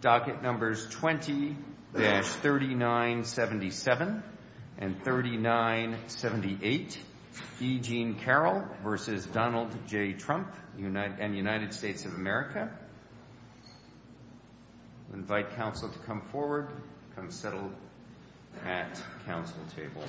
Docket numbers 20-3977 and 3978, E. Jean Carroll v. Donald J. Trump and the United States of America. I invite counsel to come forward and settle at the counsel table.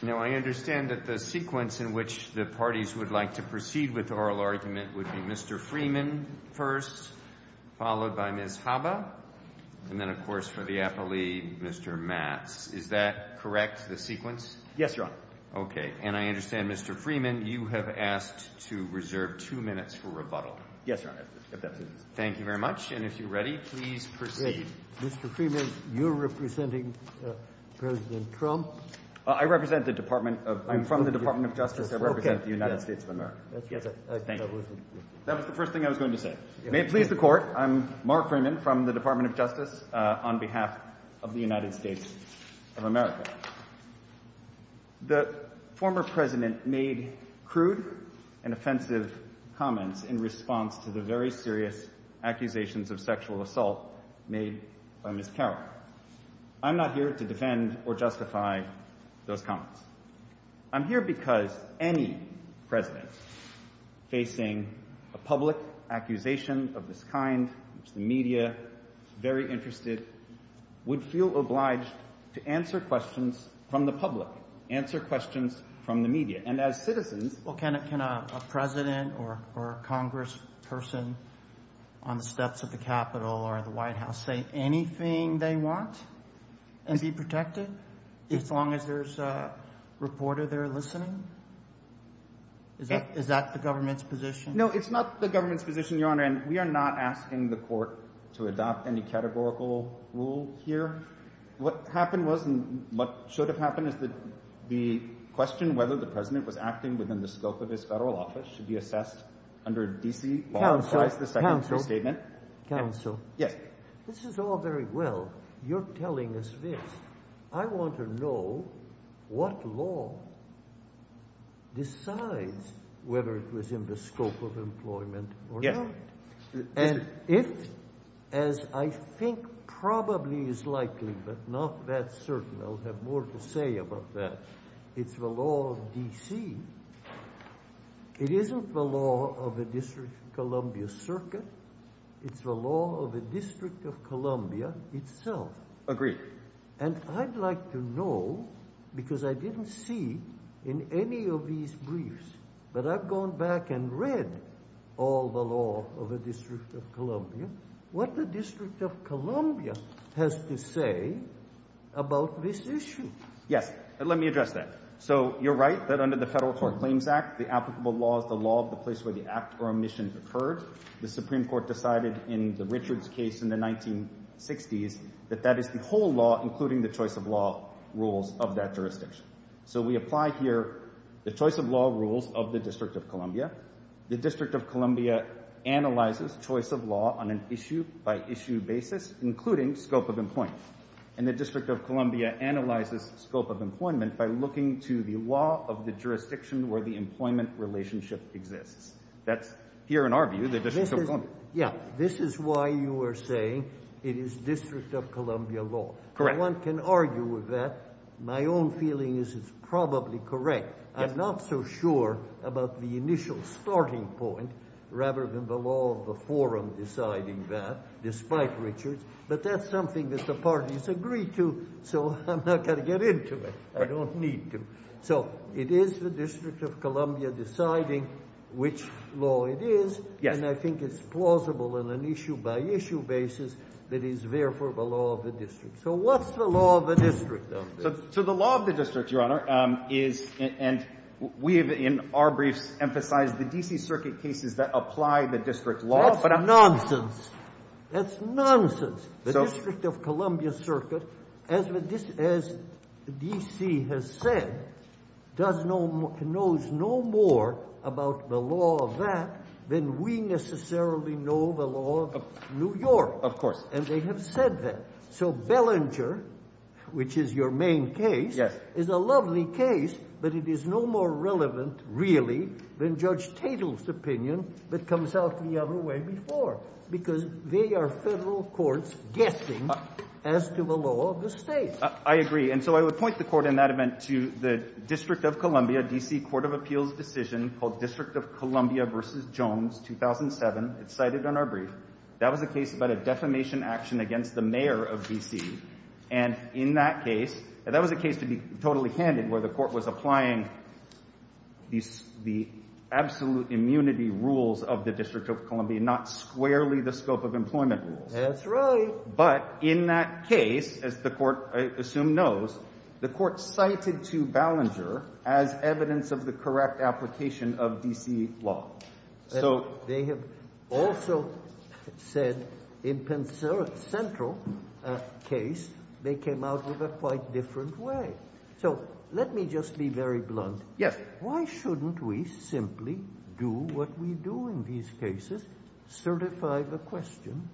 Now, I understand that the sequence in which the parties would like to proceed with the oral argument would be Mr. Freeman first, followed by Ms. Haba, and then, of course, for the appellee, Mr. Matz. Is that correct, the sequence? Yes, Your Honor. Okay. And I understand, Mr. Freeman, you have asked to reserve two minutes for rebuttal. Yes, Your Honor. Thank you very much. And if you're ready, please proceed. Mr. Freeman, you're representing President Trump? I represent the Department of – I'm from the Department of Justice. I represent the United States of America. I get it. Thank you. That was the first thing I was going to say. May it please the Court, I'm Mark Freeman from the Department of Justice on behalf of the United States of America. The former president made crude and offensive comments in response to the very serious accusations of sexual assault made by Ms. Carroll. I'm not here to defend or justify those comments. I'm here because any president facing a public accusation of this kind, which the media is very interested, would feel obliged to answer questions from the public, answer questions from the media. And as citizens – Can a president or a congressperson on the steps of the Capitol or in the White House say anything they want and be protected, as long as there's a reporter there listening? Is that the government's position? No, it's not the government's position, Your Honor, and we are not asking the Court to adopt any categorical rule here. What happened was, and what should have happened, is that the question whether the president was acting within the scope of his federal office should be assessed under D.C. law. Counsel, counsel, counsel. Yes. This is all very well. You're telling us this. I want to know what law decides whether it was in the scope of employment or not. And if, as I think probably is likely, but not that certain, I'll have more to say about that, it's the law of D.C. It isn't the law of the District of Columbia Circuit. It's the law of the District of Columbia itself. Agreed. And I'd like to know, because I didn't see in any of these briefs, but I've gone back and read all the law of the District of Columbia, what the District of Columbia has to say about this issue. Yes, let me address that. So, you're right that under the Federal Tort Claims Act, the applicable law is the law of the place where the act or omission occurs. The Supreme Court decided in the Richards case in the 1960s that that is the whole law, including the choice of law rules of that jurisdiction. So we apply here the choice of law rules of the District of Columbia. The District of Columbia analyzes choice of law on an issue-by-issue basis, including scope of employment. And the District of Columbia analyzes the scope of employment by looking to the law of the jurisdiction where the employment relationship exists. That's, here in our view, the District of Columbia. Yeah, this is why you were saying it is District of Columbia law. Correct. One can argue with that. My own feeling is it's probably correct. I'm not so sure about the initial starting point, rather than the law of the forum deciding that, despite Richards. But that's something that the parties agree to, so I'm not going to get into it. I don't need to. So, it is the District of Columbia deciding which law it is. And I think it's plausible on an issue-by-issue basis that it is therefore the law of the District. So what's the law of the District, then? So the law of the District, Your Honor, is, and we have in our briefs emphasized the D.C. Circuit cases that apply the District law. That's nonsense. That's nonsense. The District of Columbia Circuit, as D.C. has said, knows no more about the law of that than we necessarily know the law of New York. Of course. And they have said that. So Bellinger, which is your main case, is a lovely case, but it is no more relevant, really, than Judge Tatel's opinion, that comes out the other way before. Because they are federal courts guessing as to the law of the states. I agree. And so I would point the Court in that event to the District of Columbia, D.C. Court of Appeals decision, called District of Columbia v. Jones, 2007, cited in our brief. That was a case about a defamation action against the mayor of D.C. And in that case, and that was a case, to be totally candid, where the Court was applying the absolute immunity rules of the District of Columbia, not squarely the scope of employment rules. That's right. But in that case, as the Court, I assume, knows, the Court cited to Bellinger as evidence of the correct application of D.C. law. They have also said, in Penn Central's case, they came out with a quite different way. So, let me just be very blunt. Yes. Why shouldn't we simply do what we do in these cases, certify the question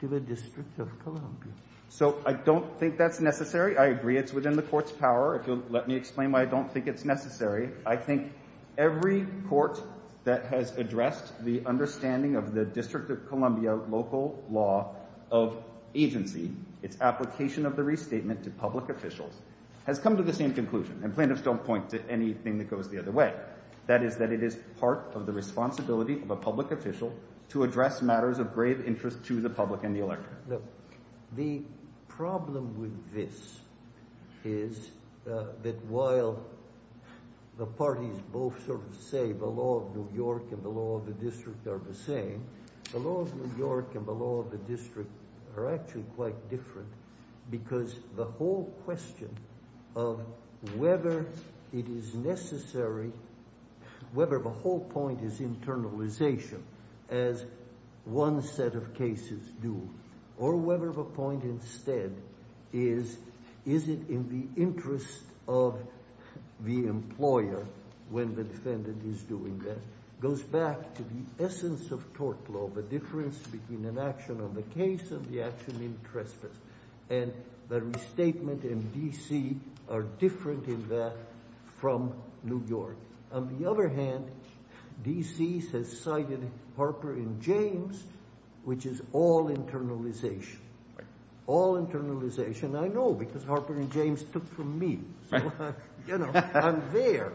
to the District of Columbia? So, I don't think that's necessary. I agree it's within the Court's power. If you'll let me explain why I don't think it's necessary. I think every Court that has addressed the understanding of the District of Columbia local law of agency, its application of the restatement to public officials, has come to the same conclusion. And plaintiffs don't point to anything that goes the other way. That is that it is part of the responsibility of a public official to address matters of grave interest to the public and the electorate. The problem with this is that while the parties both sort of say the law of New York and the law of the District are the same, the laws of New York and the law of the District are actually quite different. Because the whole question of whether it is necessary, whether the whole point is internalization as one set of cases do, or whether the point instead is, is it in the interest of the employer when the defendant is doing that, goes back to the essence of tort law, the difference between an action and the case of the action in trespass. And the restatement and D.C. are different in that from New York. On the other hand, D.C. has cited Harper and James, which is all internalization. All internalization, I know, because Harper and James took from me. You know, I'm there.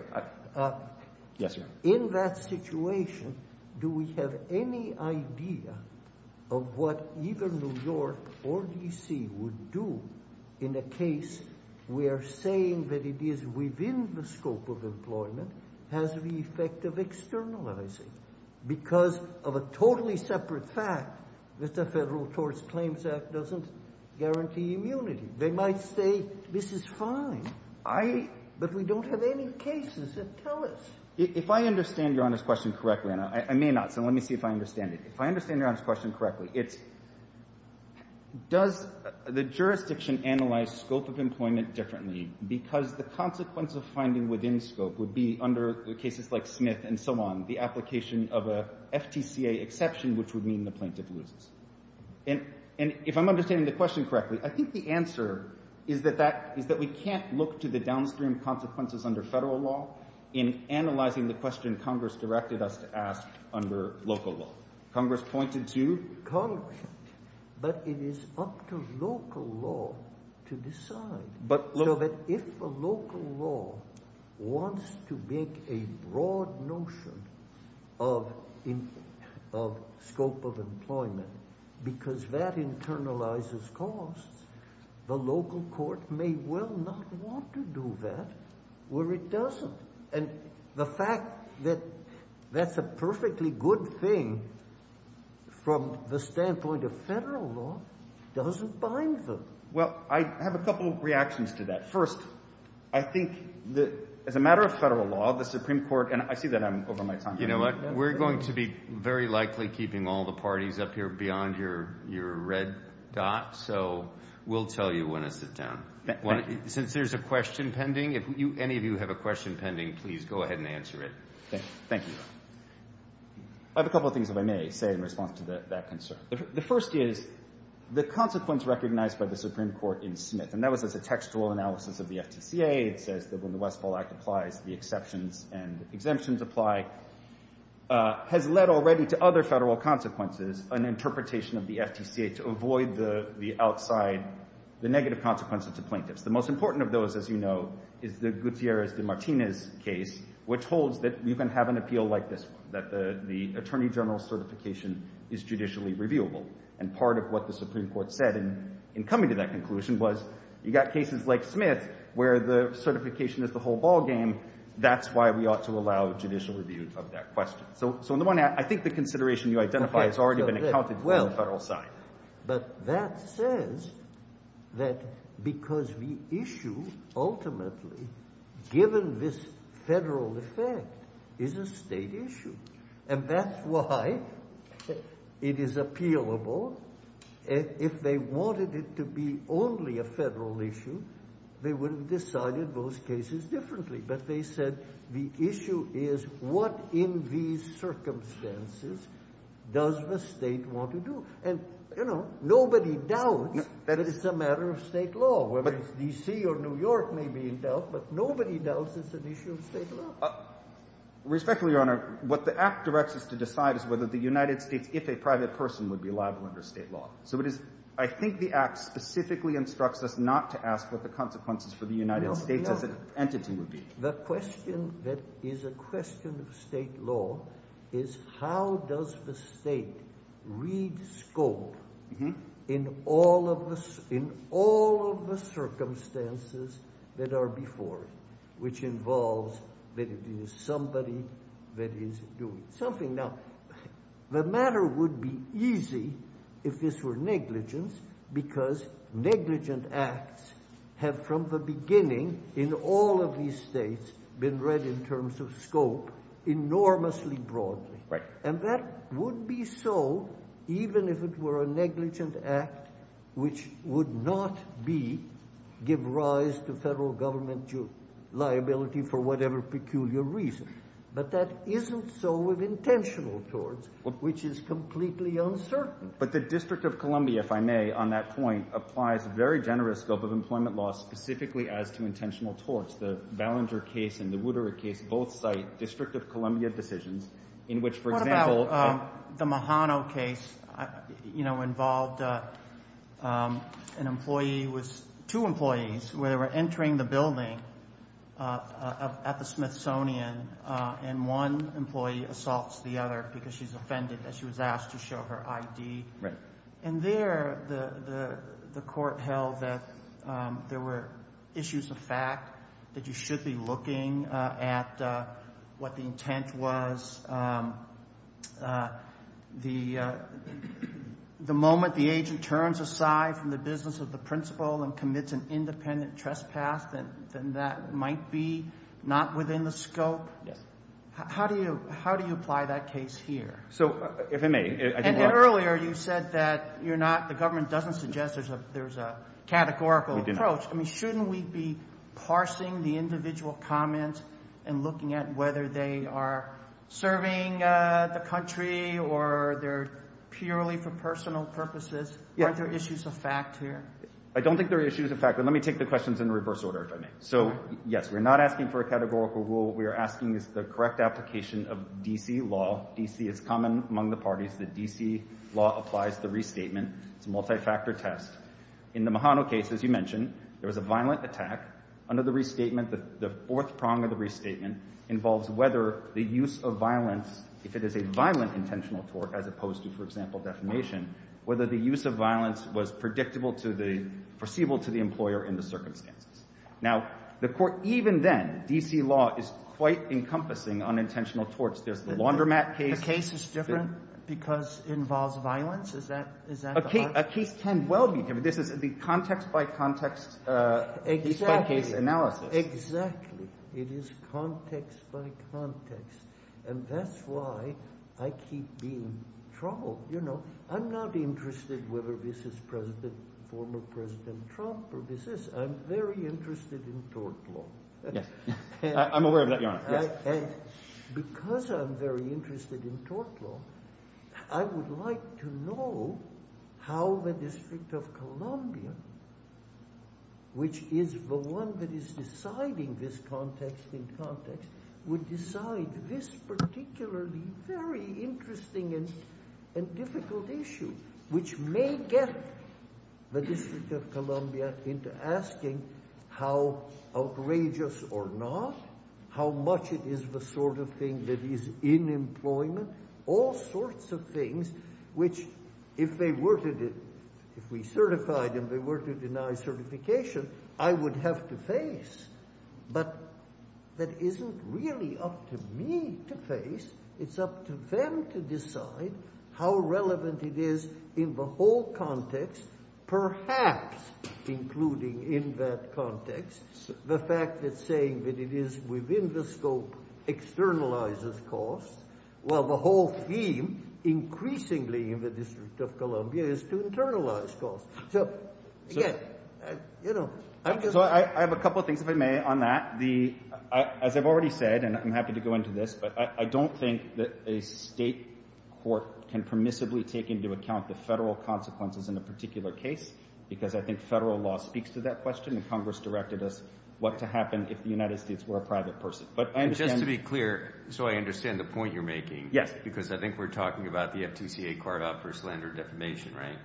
Yes, sir. In that situation, do we have any idea of what either New York or D.C. would do in a case where saying that it is within the scope of employment has the effect of externalizing? Because of a totally separate fact that the Federal Torts Claims Act doesn't guarantee immunity. They might say, this is fine, but we don't have any cases. Tell us. If I understand Your Honor's question correctly, and I may not, so let me see if I understand it. If I understand Your Honor's question correctly, does the jurisdiction analyze scope of employment differently because the consequence of finding within scope would be under cases like Smith and so on, the application of a FPCA exception which would mean the plaintiff loses. And if I'm understanding the question correctly, I think the answer is that we can't look to the downstream consequences under federal law in analyzing the question Congress directed us to ask under local law. Congress pointed to… But it is up to local law to decide. So that if a local law wants to make a broad notion of scope of employment because that internalizes costs, the local court may well not want to do that where it doesn't. And the fact that that's a perfectly good thing from the standpoint of federal law doesn't bind them. Well, I have a couple of reactions to that. First, I think as a matter of federal law, the Supreme Court, and I see that I'm over my time. You know what, we're going to be very likely keeping all the parties up here beyond your red dot, so we'll tell you when to sit down. Since there's a question pending, if any of you have a question pending, please go ahead and answer it. Thank you. I have a couple of things that I may say in response to that concern. The first is the consequence recognized by the Supreme Court in Smith, and that was a textual analysis of the FPCA. It says that when the Westfall Act applies, the exceptions and exemptions apply. It has led already to other federal consequences, an interpretation of the FPCA, to avoid the outside, the negative consequences of plaintiffs. The most important of those, as you know, is the Gutierrez de Martinez case, which holds that you can have an appeal like this, that the attorney general's certification is judicially reviewable. And part of what the Supreme Court said in coming to that conclusion was you've got cases like Smith where the certification is the whole ballgame. That's why we ought to allow judicial review of that question. So I think the consideration you identified has already been accounted for on the federal side. But that says that because the issue ultimately, given this federal effect, is a state issue. And that's why it is appealable. If they wanted it to be only a federal issue, they would have decided those cases differently. But they said the issue is what in these circumstances does the state want to do? And, you know, nobody doubts that it's a matter of state law. Whether it's D.C. or New York may be in doubt, but nobody doubts it's an issue of state law. Respectfully, Your Honor, what the Act directs us to decide is whether the United States, if a private person, would be allowed to under state law. So I think the Act specifically instructs us not to ask what the consequences for the United States as an entity would be. The question that is a question of state law is how does the state read scope in all of the circumstances that are before it? Which involves that it is somebody that is doing something. Now, the matter would be easy if this were negligence because negligent acts have from the beginning in all of these states been read in terms of scope enormously broadly. And that would be so even if it were a negligent act which would not be give rise to federal government liability for whatever peculiar reason. But that isn't so with intentional torts, which is completely uncertain. But the District of Columbia, if I may, on that point, applies a very generous scope of employment law specifically as to intentional torts. The Ballenger case and the Woodrow case both cite District of Columbia decisions in which, for example... involved two employees who were entering the building at the Smithsonian and one employee assaults the other because she's offended that she was asked to show her ID. And there, the court held that there were issues of fact that you should be looking at, what the intent was. The moment the agent turns aside from the business of the principal and commits an independent trespass, then that might be not within the scope. How do you apply that case here? And earlier you said that the government doesn't suggest there's a categorical approach. Shouldn't we be parsing the individual comments and looking at whether they are serving the country or they're purely for personal purposes? Are there issues of fact here? I don't think there are issues of fact, but let me take the questions in reverse order, if I may. So, yes, we're not asking for a categorical rule. What we are asking is the correct application of D.C. law. D.C. is common among the parties. The D.C. law applies to restatement, multi-factor tests. In the Mahano case, as you mentioned, there was a violent attack. Under the restatement, the fourth prong of the restatement involves whether the use of violence, if it is a violent intentional tort, as opposed to, for example, defamation, whether the use of violence was predictable to the, foreseeable to the employer in the circumstance. Now, the court, even then, D.C. law is quite encompassing on intentional torts. There's the laundromat case. The case is different because it involves violence? A case can well be different. It would be context by context. Exactly. It is context by context. And that's why I keep being troubled, you know. I'm not interested whether this is President, former President Trump, or this is. I'm very interested in tort law. I'm aware of that, Your Honor. And because I'm very interested in tort law, I would like to know how the District of Columbia, which is the one that is deciding this context in context, would decide this particularly very interesting and difficult issue, which may get the District of Columbia into asking how outrageous or not, how much it is the sort of thing that is in employment, all sorts of things which, if they were to, if we certified and they were to deny certification, I would have to face. But that isn't really up to me to face. It's up to them to decide how relevant it is in the whole context, perhaps including in that context the fact that saying that it is within the scope externalizes costs, while the whole theme increasingly in the District of Columbia is to internalize costs. So, I have a couple of things, if I may, on that. As I've already said, and I'm happy to go into this, but I don't think that a state court can permissibly take into account the federal consequences in a particular case, because I think federal law speaks to that question, and Congress directed us what to happen if the United States were a private person. But I understand... Just to be clear, so I understand the point you're making. Yes. Because I think we're talking about the FTCA card out for slander defamation, right?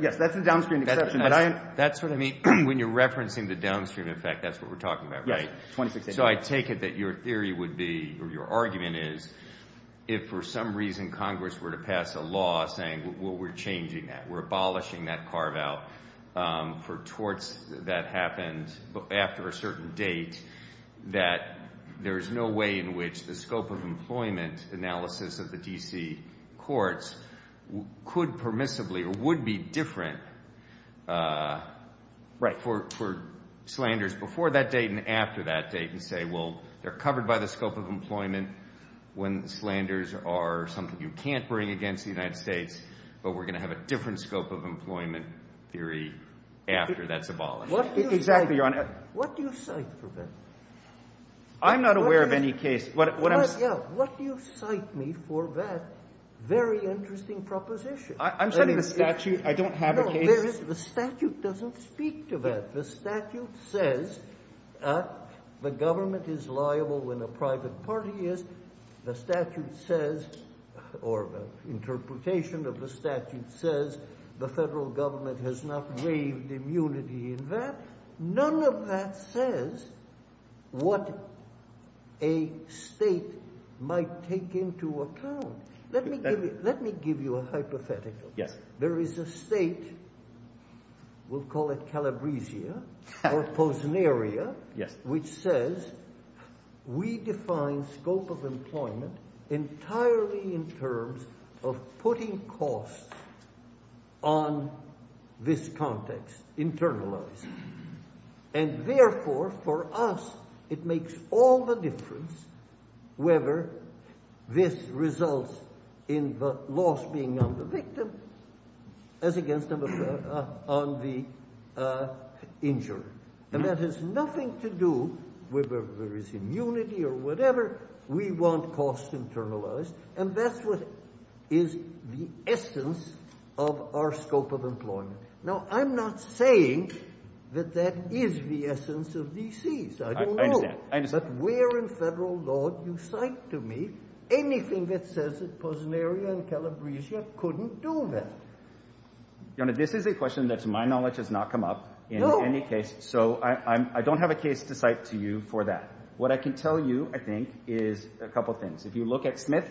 Yes, that's a downstream exception, but I am... That's what I mean, when you're referencing the downstream effect, that's what we're talking about, right? Right. So, I take it that your theory would be, or your argument is, if for some reason Congress were to pass a law saying, well, we're changing that, we're abolishing that card out for torts that happened after a certain date, that there's no way in which the scope of employment analysis of the DC courts could permissibly or would be different for slanders before that date and after that date, and say, well, they're covered by the scope of employment when slanders are something you can't bring against the United States, but we're going to have a different scope of employment theory after that's abolished. What do you cite, Your Honor? What do you cite for that? I'm not aware of any case... What do you cite me for that very interesting proposition? I'm saying the statute, I don't have a case... No, the statute doesn't speak to that. The statute says that the government is liable when a private party is. The statute says, or the interpretation of the statute says, the federal government has not waived immunity in that. None of that says what a state might take into account. Let me give you a hypothetical. There is a state, we'll call it Calabresia, or Posenaria, which says, we define scope of employment entirely in terms of putting costs on this context, internalized. And therefore, for us, it makes all the difference whether this results in the loss being on the victim as against them on the injured. And that has nothing to do with whether there is immunity or whatever. We want costs internalized, and that's what is the essence of our scope of employment. Now, I'm not saying that that is the essence of DC's, I don't know. I understand. But where in federal law do you cite to me anything that says that Posenaria and Calabresia couldn't do that? This is a question that to my knowledge has not come up in any case, so I don't have a case to cite to you for that. What I can tell you, I think, is a couple of things. If you look at Smith,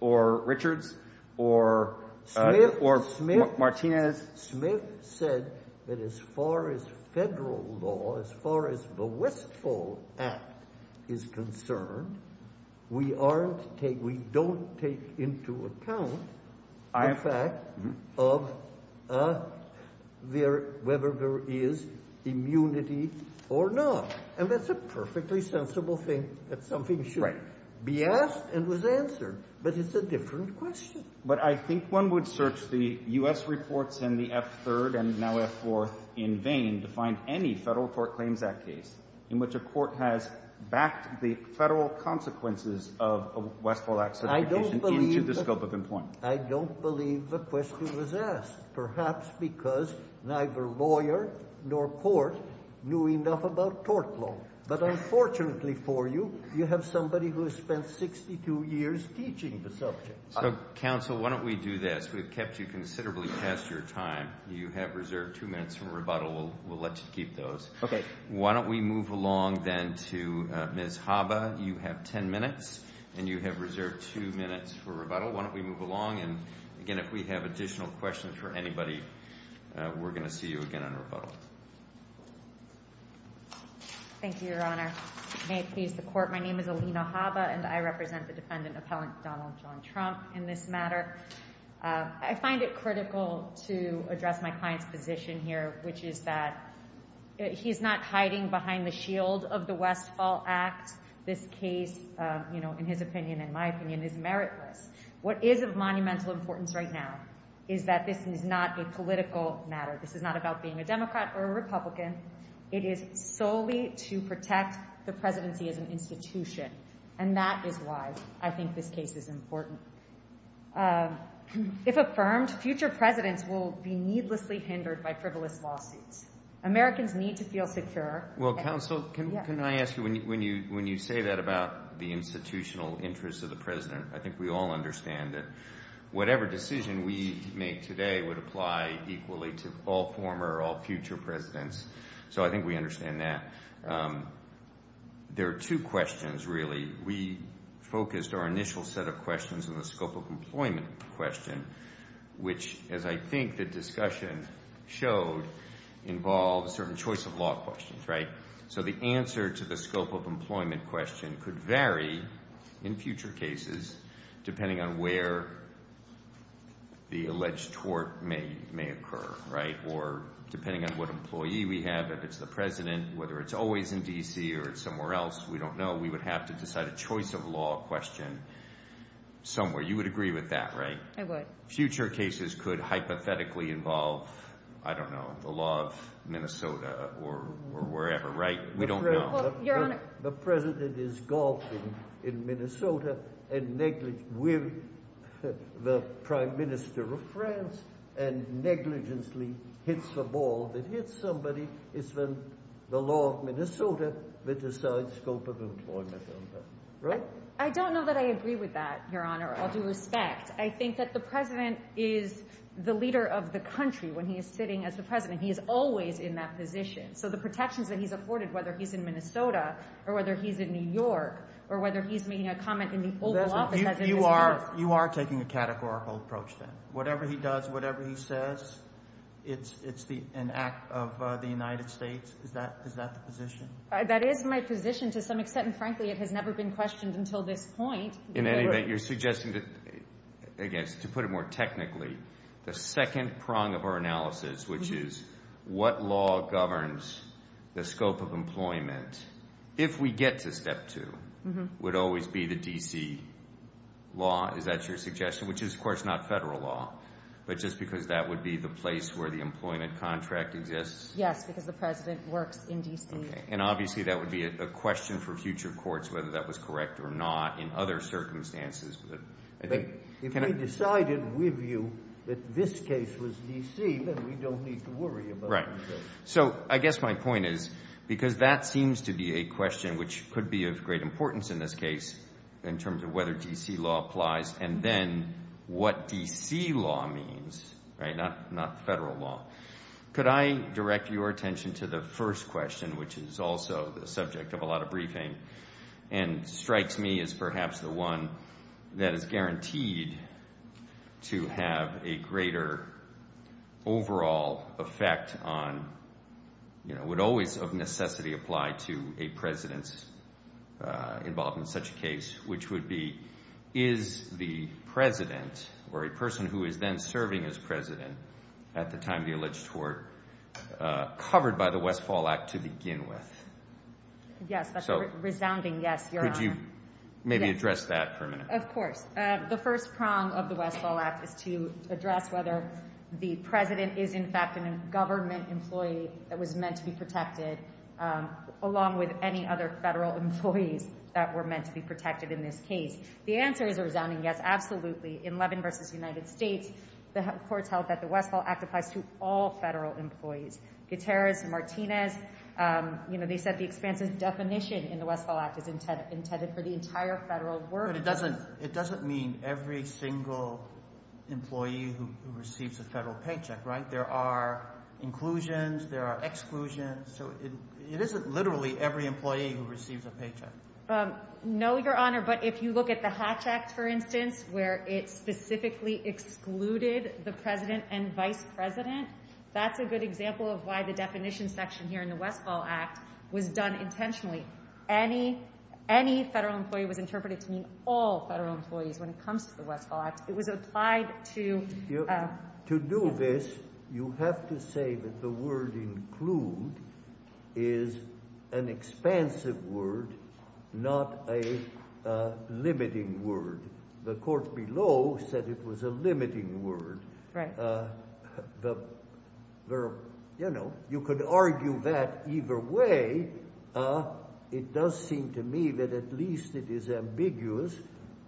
or Richards, or Martinez. Smith said that as far as federal law, as far as the Westfall Act is concerned, we don't take into account the fact of whether there is immunity or not. And that's a perfectly sensible thing that something should be asked and was answered. But it's a different question. But I think one would search the U.S. reports and the F-3rd and now F-4th in vain to find any federal court claims that case in which a court has backed the federal consequences of the Westfall Act. I don't believe the question was asked. Perhaps because neither lawyer nor court knew enough about tort law. But unfortunately for you, you have somebody who has spent 62 years teaching the subject. So, counsel, why don't we do this? We've kept you considerably past your time. You have reserved two minutes for rebuttal. We'll let you keep those. Why don't we move along then to Ms. Haba. You have ten minutes and you have reserved two minutes for rebuttal. Why don't we move along and, again, if we have additional questions for anybody, we're going to see you again in rebuttal. Thank you, Your Honor. May it please the Court. My name is Alina Haba and I represent the defendant, Appellant Donald John Trump, in this matter. I find it critical to address my client's position here, which is that he's not hiding behind the shield of the Westfall Act. This case, in his opinion, in my opinion, is meritless. What is of monumental importance right now is that this is not a political matter. This is not about being a Democrat or a Republican. It is solely to protect the presidency as an institution. And that is why I think this case is important. If affirmed, future presidents will be needlessly hindered by frivolous lawsuits. Americans need to feel secure. Well, counsel, can I ask you, when you say that about the institutional interests of the president, I think we all understand that whatever decision we make today would apply equally to all former, all future presidents. So I think we understand that. There are two questions, really. We focused our initial set of questions on the scope of employment question, which, as I think the discussion showed, involves certain choice of law questions, right? So the answer to the scope of employment question could vary in future cases, depending on where the alleged tort may occur, right? Or depending on what employee we have, if it's the president, whether it's always in D.C. or somewhere else, we don't know. We would have to decide a choice of law question somewhere. You would agree with that, right? I would. Future cases could hypothetically involve, I don't know, the law of Minnesota or wherever, right? We don't know. The president is golfing in Minnesota with the prime minister of France and negligently hits a ball that hits somebody. It's the law of Minnesota that decides scope of employment. Right? I don't know that I agree with that, Your Honor. All due respect, I think that the president is the leader of the country when he is sitting as the president. He is always in that position. So the protections that he's afforded, whether he's in Minnesota or whether he's in New York, or whether he's making a comment in the Oval Office as in New York. You are taking a categorical approach then. Whatever he does, whatever he says, it's an act of the United States. Is that the position? That is my position to some extent, and frankly, it has never been questioned until this point. In any event, you're suggesting that, again, to put it more technically, the second prong of our analysis, which is what law governs the scope of employment, if we get to step two, would always be the D.C. law. Is that your suggestion? Which is, of course, not federal law, but just because that would be the place where the employment contract exists. Yes, because the president worked in D.C. And obviously that would be a question for future courts whether that was correct or not in other circumstances. If we decided with you that this case was D.C., then we don't need to worry about it. Right. So I guess my point is, because that seems to be a question which could be of great importance in this case, in terms of whether D.C. law applies, and then what D.C. law means, right, not federal law. Could I direct your attention to the first question, which is also the subject of a lot of briefing, and strikes me as perhaps the one that is guaranteed to have a greater overall effect on, would always of necessity apply to a president's involvement in such a case, which would be, is the president, or a person who is then serving as president at the time of the alleged tort, covered by the Westfall Act to begin with? Yes, that's a resounding yes, Your Honor. Could you maybe address that for a minute? Of course. The first prong of the Westfall Act is to address whether the president is, in fact, a government employee that was meant to be protected, along with any other federal employees that were meant to be protected in this case. The answer is a resounding yes, absolutely. In Levin v. United States, the court tells that the Westfall Act applies to all federal employees. Gutierrez and Martinez, you know, they said the expenses definition in the Westfall Act is intended for the entire federal workforce. But it doesn't mean every single employee who receives a federal paycheck, right? There are inclusions, there are exclusions. It isn't literally every employee who receives a paycheck. No, Your Honor, but if you look at the Hatch Act, for instance, where it specifically excluded the president and vice president, that's a good example of why the definition section here in the Westfall Act was done intentionally. Any federal employee was interpreted to mean all federal employees when it comes to the Westfall Act. It was applied to... It was not a limiting word. The court below said it was a limiting word. You know, you could argue that either way. It does seem to me that at least it is ambiguous.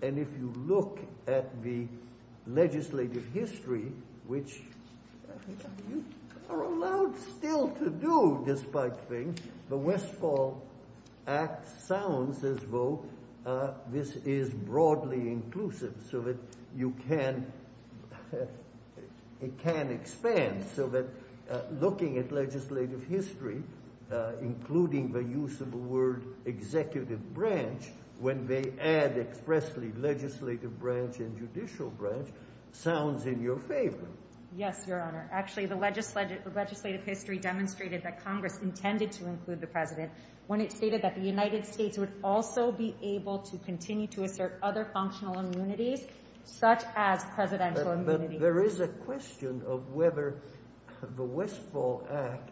And if you look at the legislative history, which you are allowed still to do despite things, the Westfall Act sounds as though this is broadly inclusive so that you can expand. So that looking at legislative history, including the use of the word executive branch, when they add expressly legislative branch and judicial branch, sounds in your favor. Yes, Your Honor. Actually, the legislative history demonstrated that Congress intended to include the president when it stated that the United States would also be able to continue to assert other functional immunities, such as presidential immunity. There is a question of whether the Westfall Act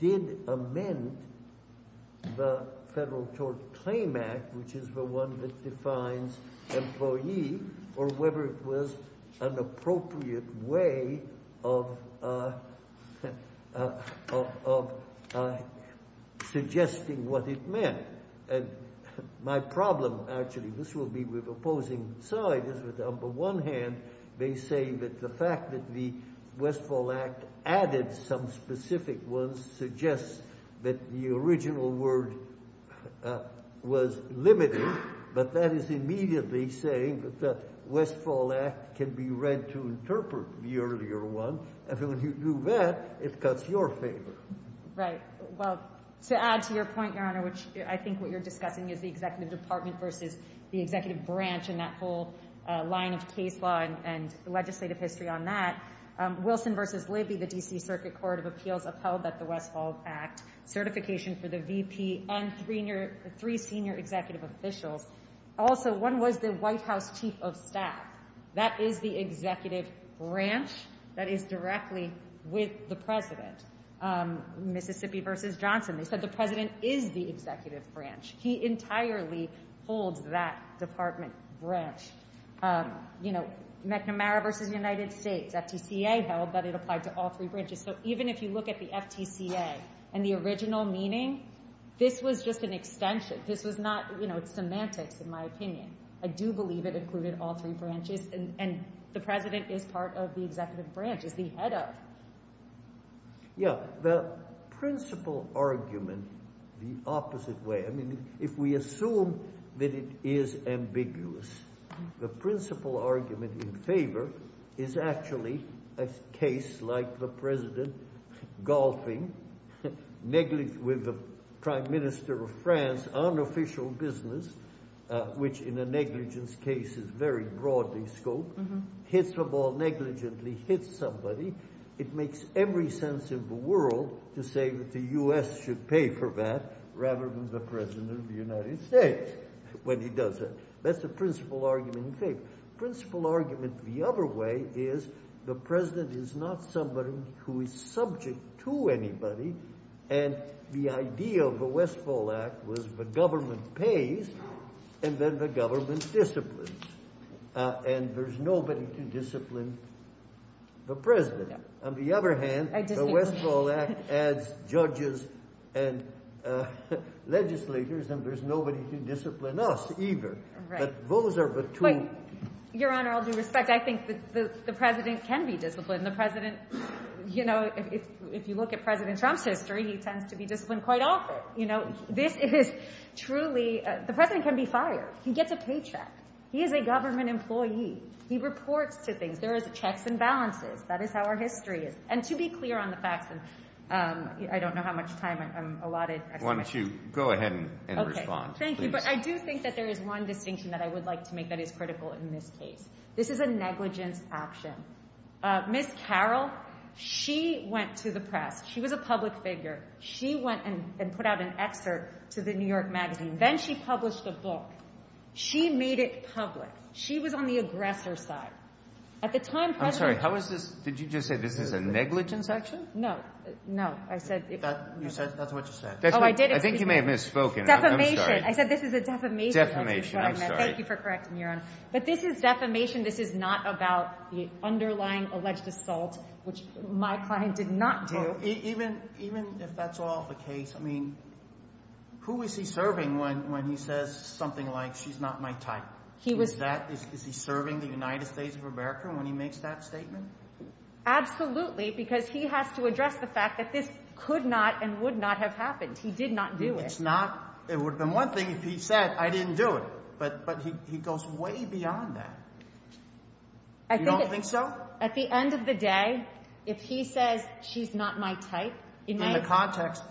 did amend the Federal Tort Claim Act, which is the one that defines employee, or whether it was an appropriate way of suggesting what it meant. My problem, actually, this will be with opposing sides, is that on the one hand they say that the fact that the Westfall Act added some specific ones suggests that the original word was limited. But that is immediately saying that the Westfall Act can be read to interpret the earlier one. And when you do that, it cuts your finger. Right. Well, to add to your point, Your Honor, which I think what you're discussing is the executive department versus the executive branch and that whole line of case law and legislative history on that. Wilson v. Lizzie, the D.C. Circuit Court of Appeals, upheld that the Westfall Act certification for the VP and three senior executive officials. Also, one was the White House Chief of Staff. That is the executive branch that is directly with the president. Mississippi v. Johnson, they said the president is the executive branch. He entirely holds that department branch. McNamara v. United States, FTCA held that it applied to all three branches. So even if you look at the FTCA and the original meaning, this was just an extension. This was not semantics, in my opinion. I do believe it included all three branches. And the president is part of the executive branch. It's the head of. Yeah. The principal argument, the opposite way. If we assume that it is ambiguous, the principal argument in favor is actually a case like the president golfing with the prime minister of France on official business, which in a negligence case is very broadly scoped, hits a ball, negligently hits somebody. It makes every sense in the world to say that the U.S. should pay for that rather than the president of the United States when he does that. That's the principal argument in favor. Principal argument the other way is the president is not somebody who is subject to anybody. And the idea of the Westphal Act was the government pays and then the government disciplines. And there's nobody to discipline the president. On the other hand, the Westphal Act adds judges and legislators and there's nobody to discipline us either. But those are the two. Your Honor, all due respect, I think the president can be disciplined. The president, you know, if you look at President Trump's history, he tends to be disciplined quite often. You know, this is truly, the president can be fired. He gets a paycheck. He is a government employee. He reports to things. There are checks and balances. That is how our history is. And to be clear on the fact that I don't know how much time I'm allotted. Why don't you go ahead and respond. Okay, thank you. But I do think that there is one distinction that I would like to make that is critical in this case. This is a negligence action. Ms. Carroll, she went to the press. She was a public figure. She went and put out an excerpt to the New York Magazine. Then she published a book. She made it public. She was on the aggressor side. At the time President Trump... I'm sorry, how is this, did you just say this is a negligence action? No. No, I said... You said, that's what you said. Oh, I did. I think you may have misspoken. Defamation. I'm sorry. I said this is a defamation. Defamation, I'm sorry. Thank you for correcting me, Your Honor. But this is defamation. This is not about the underlying alleged assault, which my client did not do. Even if that's all the case, I mean, who is he serving when he says something like, she's not my type? Is he serving the United States of America when he makes that statement? Absolutely, because he has to address the fact that this could not and would not have happened. He did not do it. It would have been one thing if he said, I didn't do it. But he goes way beyond that. You don't think so? At the end of the day, if he says, she's not my type... In the context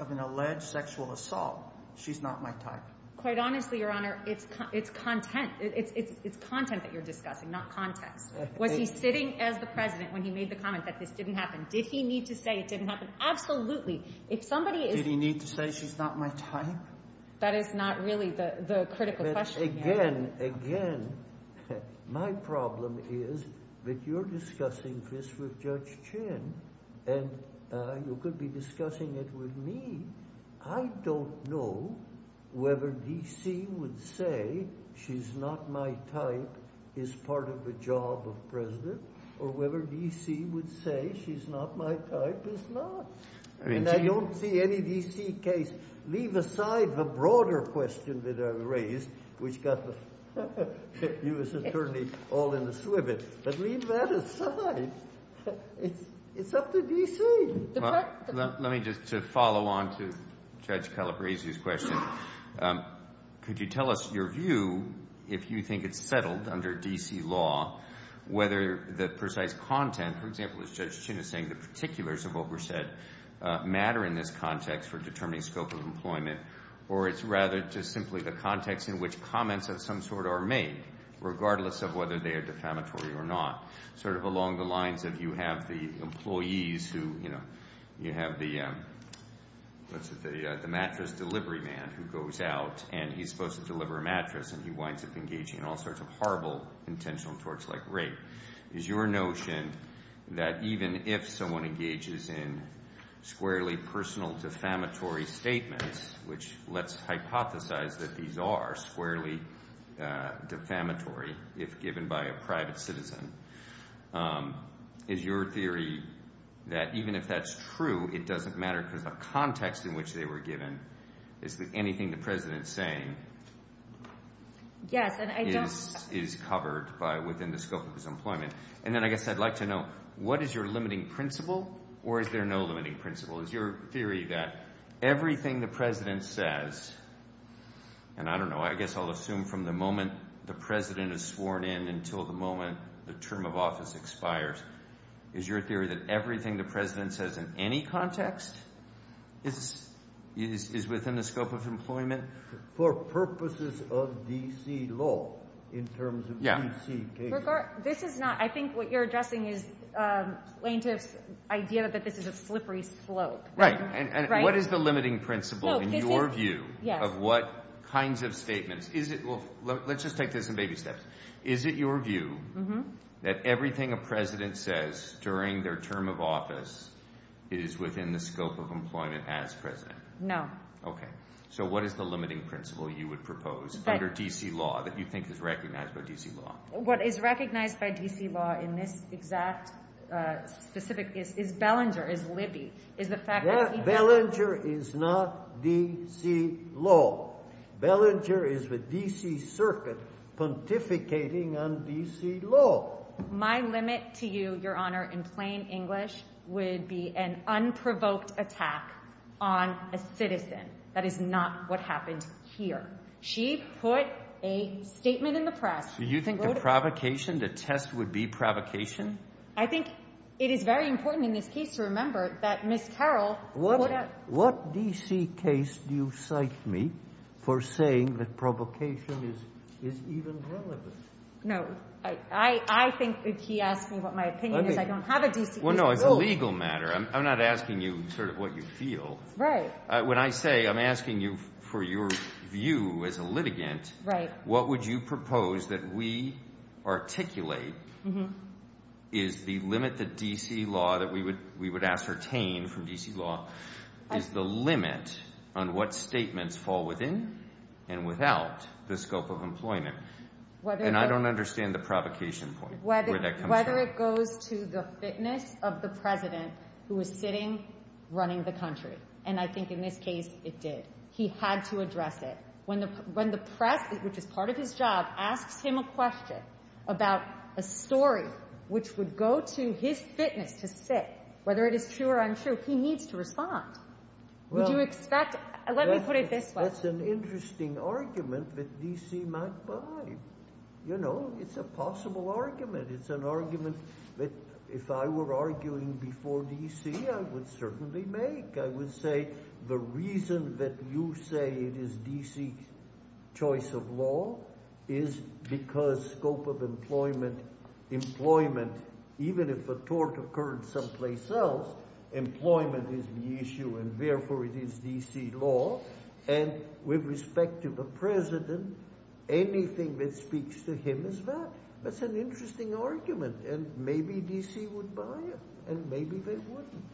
of an alleged sexual assault, she's not my type. Quite honestly, Your Honor, it's content. It's content that you're discussing, not content. Was he sitting as the president when he made the comment that this didn't happen? Did he need to say it didn't happen? Absolutely. Did he need to say she's not my type? That is not really the critical question. Again, again, my problem is that you're discussing this with Judge Chin. And you could be discussing it with me. I don't know whether D.C. would say she's not my type is part of the job of president, or whether D.C. would say she's not my type is not. And I don't see any D.C. case. Leave aside the broader question that I raised, which got the U.S. Attorney all in the swivet. But leave that aside. It's up to D.C. Let me just follow on to Judge Kellip Raisi's question. Could you tell us your view, if you think it's settled under D.C. law, whether the precise content, for example, as Judge Chin is saying, the particulars of what were said, matter in this context for determining scope of employment, or it's rather just simply the context in which comments of some sort are made, regardless of whether they are defamatory or not. Sort of along the lines of you have the employees who, you know, you have the mattress delivery man who goes out, and he's supposed to deliver a mattress, and he winds up engaging in all sorts of horrible intentional torts like rape. Is your notion that even if someone engages in squarely personal defamatory statements, which let's hypothesize that these are squarely defamatory if given by a private citizen, is your theory that even if that's true, it doesn't matter because the context in which they were given, is that anything the President is saying is covered within the scope of his employment? And then I guess I'd like to know, what is your limiting principle, or is there no limiting principle? Is your theory that everything the President says, and I don't know, I guess I'll assume from the moment the President is sworn in until the moment the term of office expires, is your theory that everything the President says in any context, is within the scope of employment? For purposes of D.C. law, in terms of D.C. case law. This is not, I think what you're addressing is the idea that this is a slippery slope. Right, and what is the limiting principle in your view of what kinds of statements, let's just take this in baby steps, is it your view that everything a President says during their term of office is within the scope of employment as President? No. Okay, so what is the limiting principle you would propose under D.C. law, that you think is recognized by D.C. law? What is recognized by D.C. law in this exact specific case is Bellinger, is Libby, is the fact that he... Yes, Bellinger is not D.C. law. Bellinger is the D.C. circuit pontificating on D.C. law. My limit to you, Your Honor, in plain English, would be an unprovoked attack on a citizen. That is not what happened here. She put a statement in the press... Do you think the provocation, the test would be provocation? I think it is very important in this case to remember that Ms. Carroll... What D.C. case do you cite me for saying that provocation is even relevant? No, I think that he asked me what my opinion is. I don't have a D.C. rule. Well, no, it's a legal matter. I'm not asking you sort of what you feel. Right. When I say I'm asking you for your view as a litigant, what would you propose that we articulate is the limit that D.C. law, that we would ascertain from D.C. law, is the limit on what statements fall within and without the scope of employment. And I don't understand the provocation point. Whether it goes to the fitness of the president who is sitting running the country. And I think in this case it did. He had to address it. When the press, which is part of his job, asked him a question about a story which would go to his fitness to sit, whether it is pure or unsure, he needs to respond. Would you expect... Let me put it this way. That's an interesting argument that D.C. might buy. You know, it's a possible argument. It's an argument that if I were arguing before D.C. I would certainly make. I would say the reason that you say it is D.C. choice of law is because scope of employment, even if the tort occurred someplace else, employment is the issue and therefore it is D.C. law. And with respect to the president, anything that speaks to him is that. That's an interesting argument and maybe D.C. would buy it and maybe they wouldn't.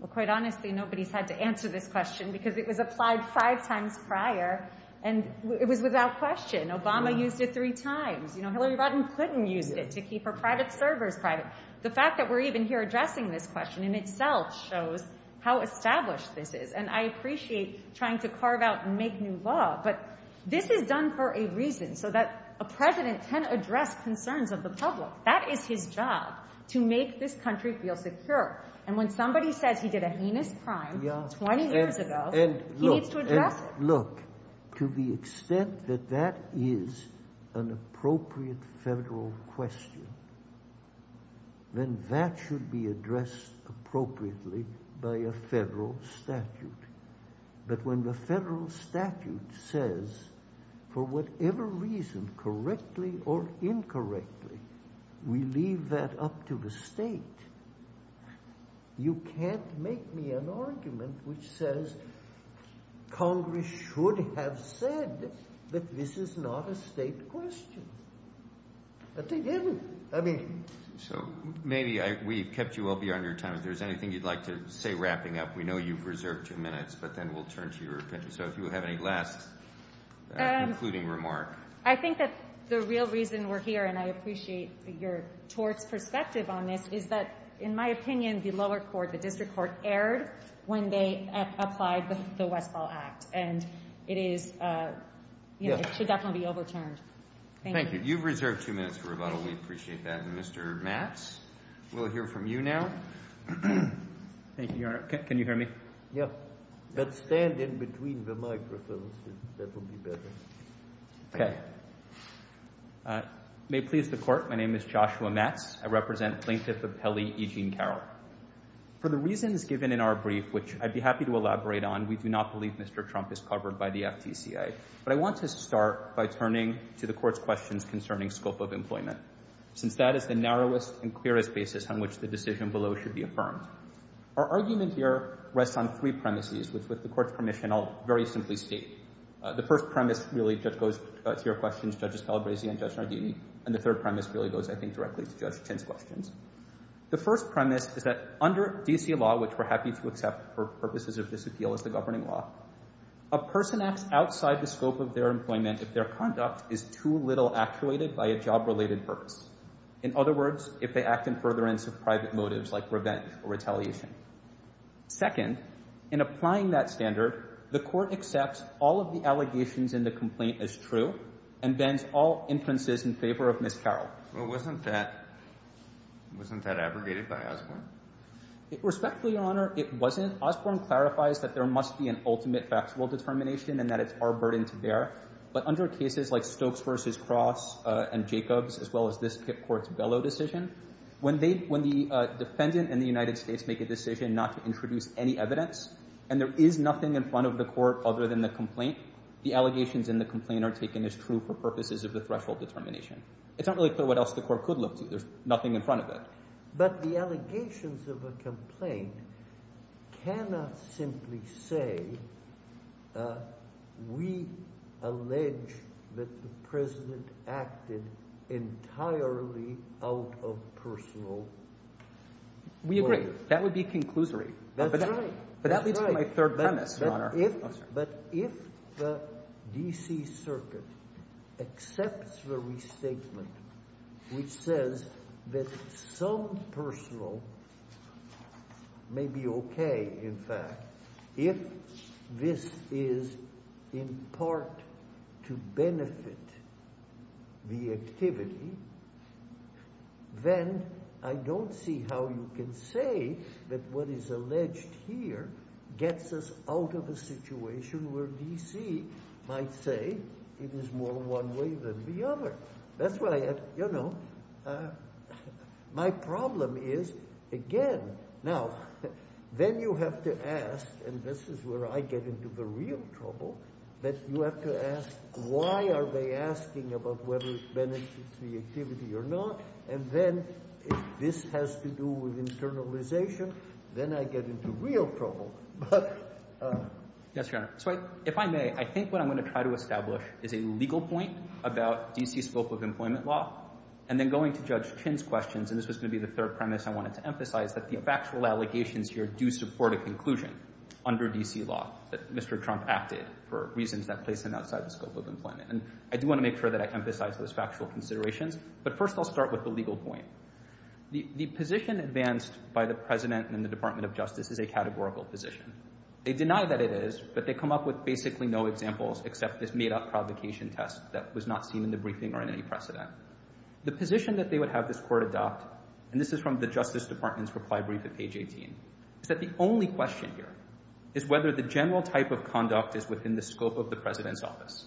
Well, quite honestly, nobody has had to answer this question because it was applied five times prior and it was without question. Obama used it three times. Hillary Clinton used it to keep her private servers private. The fact that we're even here addressing this question in itself shows how established this is. And I appreciate trying to carve out and make new law, but this is done for a reason, so that a president can address concerns of the public. That is his job, to make this country feel secure. And when somebody says he did a heinous crime 20 years ago, he needs to address it. Look, to the extent that that is an appropriate federal question, then that should be addressed appropriately by a federal statute. But when the federal statute says, for whatever reason, correctly or incorrectly, we leave that up to the state, you can't make me an argument which says Congress should have said that this is not a state question. So maybe we've kept you all beyond your time. If there's anything you'd like to say wrapping up, we know you've reserved your minutes, but then we'll turn to you. So if you have any last concluding remarks. I think that the real reason we're here, and I appreciate your perspective on this, is that, in my opinion, the lower court, the district court, erred when they applied the Westfall Act. And it should definitely be overturned. Thank you. You've reserved two minutes for rebuttal. We appreciate that. And Mr. Matz, we'll hear from you now. Thank you, Your Honor. Can you hear me? Yes. But stand in between the microphones. That would be better. Okay. May it please the Court, my name is Joshua Matz. I represent plaintiff of Pele, E. Jean Carroll. For the reasons given in our brief, which I'd be happy to elaborate on, we do not believe Mr. Trump is covered by the FDCA. But I want to start by turning to the Court's questions concerning scope of employment, since that is the narrowest and clearest basis on which the decision below should be affirmed. Our argument here rests on three premises, which, with the Court's permission, I'll very simply state. The first premise really just goes to your questions, Judge Estella-Gracie and Judge Nardini. And the third premise really goes, I think, directly to Judge Kinn's questions. The first premise is that under FDCA law, which we're happy to accept for purposes of disappeal as a governing law, a person acts outside the scope of their employment if their conduct is too little actuated by a job-related purpose. In other words, if they act in furtherance of private motives, like revenge or retaliation. Second, in applying that standard, the Court accepts all of the allegations in the complaint as true, and bans all inferences in favor of Ms. Carroll. Wasn't that abrogated by Osborne? Respectfully, Your Honor, it wasn't. Osborne clarifies that there must be an ultimate factual determination, and that it's our burden to bear. But under cases like Stokes v. Cross and Jacobs, as well as this Court's Bellow decision, when the defendant and the United States make a decision not to introduce any evidence, and there is nothing in front of the Court other than the complaint, the allegations in the complaint are taken as true for purposes of the threshold determination. It's not really clear what else the Court could look to. There's nothing in front of that. But the allegations of a complaint cannot simply say, we allege that the President acted entirely out of personal pleasure. We agree. That would be conclusory. That's right. But if the D.C. Circuit accepts the restatement, which says that some personal may be okay, in fact, if this is in part to benefit the activity, then I don't see how you can say that what is alleged here gets us out of a situation where D.C. might say it is more one way than the other. That's why, you know, my problem is, again, now, then you have to ask, and this is where I get into the real trouble, that you have to ask, why are they asking about whether it benefits the activity or not? And then, if this has to do with internalization, then I get into real trouble. Yes, Your Honor. So if I may, I think what I'm going to try to establish is a legal point about D.C.'s scope of employment law, and then going to Judge Chin's questions, and this is going to be the third premise I wanted to emphasize, that the factual allegations here do support a conclusion under D.C. law that Mr. Trump acted for reasons that place him outside the scope of employment. And I do want to make sure that I emphasize those factual considerations, but first I'll start with the legal point. The position advanced by the President and the Department of Justice is a categorical position. They deny that it is, but they come up with basically no examples except this made-up provocation test that was not seen in the briefing or in any press event. The position that they would have this court adopt, and this is from the Justice Department's reply brief at page 18, is that the only question here is whether the general type of conduct is within the scope of the President's office.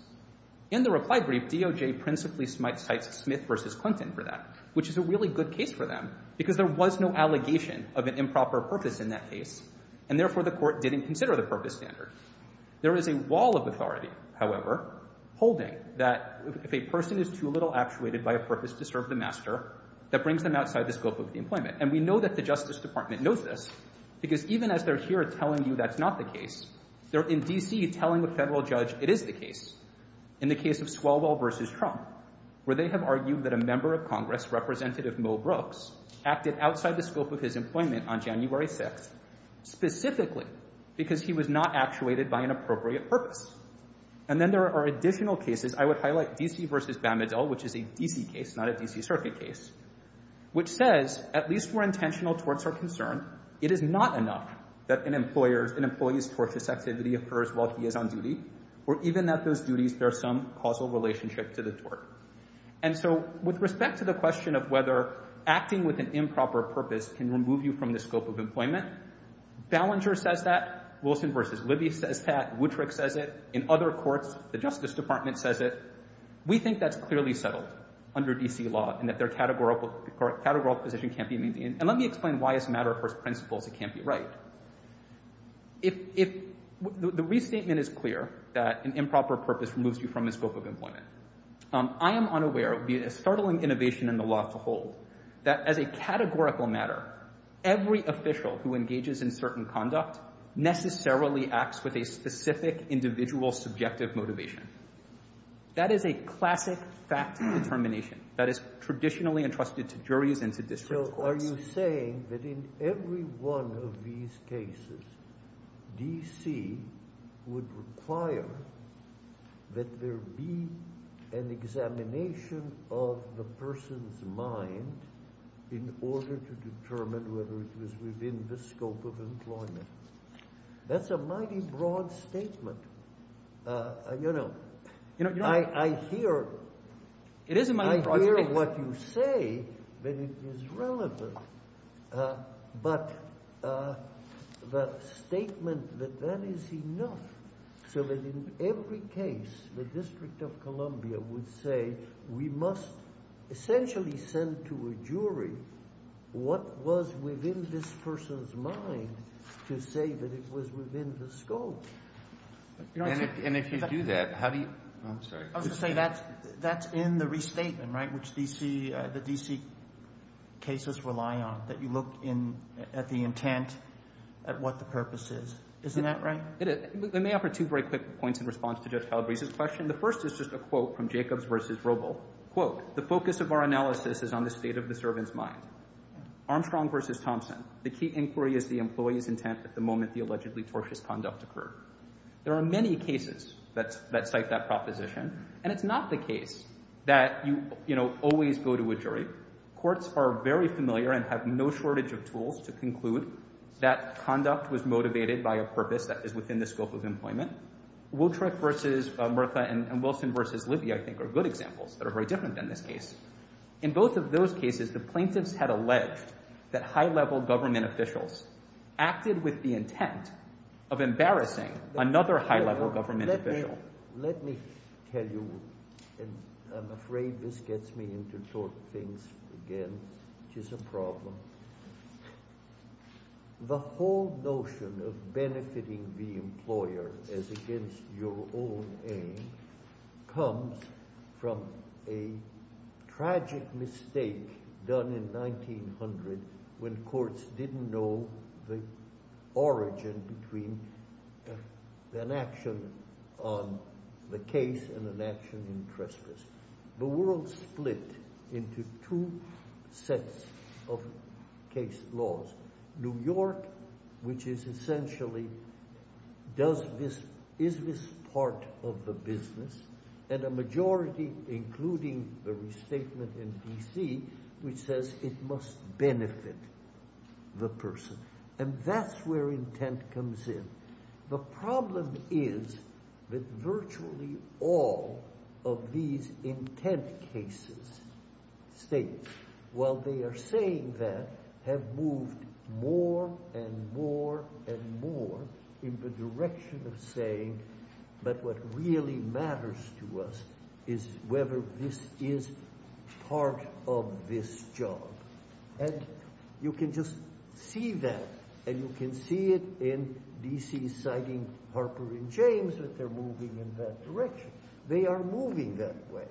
In the reply brief, DOJ principally smited Smith v. Clinton for that, which is a really good case for them, because there was no allegation of an improper purpose in that case, and therefore the court didn't consider the purpose standards. There is a wall of authority, however, holding that if a person is too little actuated, by a purpose to serve the master, that brings them outside the scope of the employment. And we know that the Justice Department knows this, because even as they're here telling you that's not the case, they're in D.C. telling a federal judge it is the case, in the case of Swalwell v. Trump, where they have argued that a member of Congress, Representative Mo Brooks, acted outside the scope of his employment on January 6th, specifically because he was not actuated by an appropriate purpose. And then there are additional cases. I would highlight D.C. v. Bamadel, which is a D.C. case, not a D.C. Circuit case, which says, at least where intentional torts are concerned, it is not enough that an employee's tortious activity occurs while he is on duty, or even that those duties bear some causal relationship to the tort. And so with respect to the question of whether acting with an improper purpose can remove you from the scope of employment, Ballenger says that, we think that's clearly settled under D.C. law, and that their categorical position can't be— and let me explain why as a matter of course principle it can't be right. If the restatement is clear that an improper purpose removes you from the scope of employment, I am unaware of the startling innovation in the law as a whole, that as a categorical matter, every official who engages in certain conduct necessarily acts with a specific individual subjective motivation. That is a classic factual determination that is traditionally entrusted to juries and to district courts. So are you saying that in every one of these cases, D.C. would require that there be an examination of the person's mind in order to determine whether it is within the scope of employment? That's a mighty broad statement. You know, I hear— It is a mighty broad statement. I hear what you say, that it is relevant, but the statement that that is enough, so that in every case, the District of Columbia would say, we must essentially send to a jury what was within this person's mind to say that it was within the scope. And if you do that, how do you—I'm sorry. That's in the restatement, right, which the D.C. cases rely on, that you look at the intent, at what the purpose is. Isn't that right? It is. Let me offer two very quick points in response to Judge Calabrese's question. The first is just a quote from Jacobs v. Robel. Quote, the focus of our analysis is on the state of the servant's mind. Armstrong v. Thompson, the key inquiry is the employee's intent at the moment the allegedly tortious conduct occurred. There are many cases that cite that proposition, and it's not the case that you always go to a jury. Courts are very familiar and have no shortage of tools to conclude that conduct was motivated by a purpose that is within the scope of employment. Wiltrick v. Murtha and Wilson v. Libby, I think, are good examples that are very different than this case. In both of those cases, the plaintiffs had alleged that high-level government officials acted with the intent of embarrassing another high-level government official. Let me tell you, and I'm afraid this gets me into tort things again, which is a problem. The whole notion of benefiting the employer as against your own aim comes from a tragic mistake done in 1900 when courts didn't know the origin between an action on the case and an action in prejudice. The world split into two sets of case laws. New York, which is essentially, is this part of the business, and a majority, including the restatement in D.C., which says it must benefit the person. And that's where intent comes in. The problem is that virtually all of these intent cases state, while they are saying that, have moved more and more and more in the direction of saying that what really matters to us is whether this is part of this job. You can just see that, and you can see it in D.C. citing Harper and James that they're moving in that direction. They are moving that way.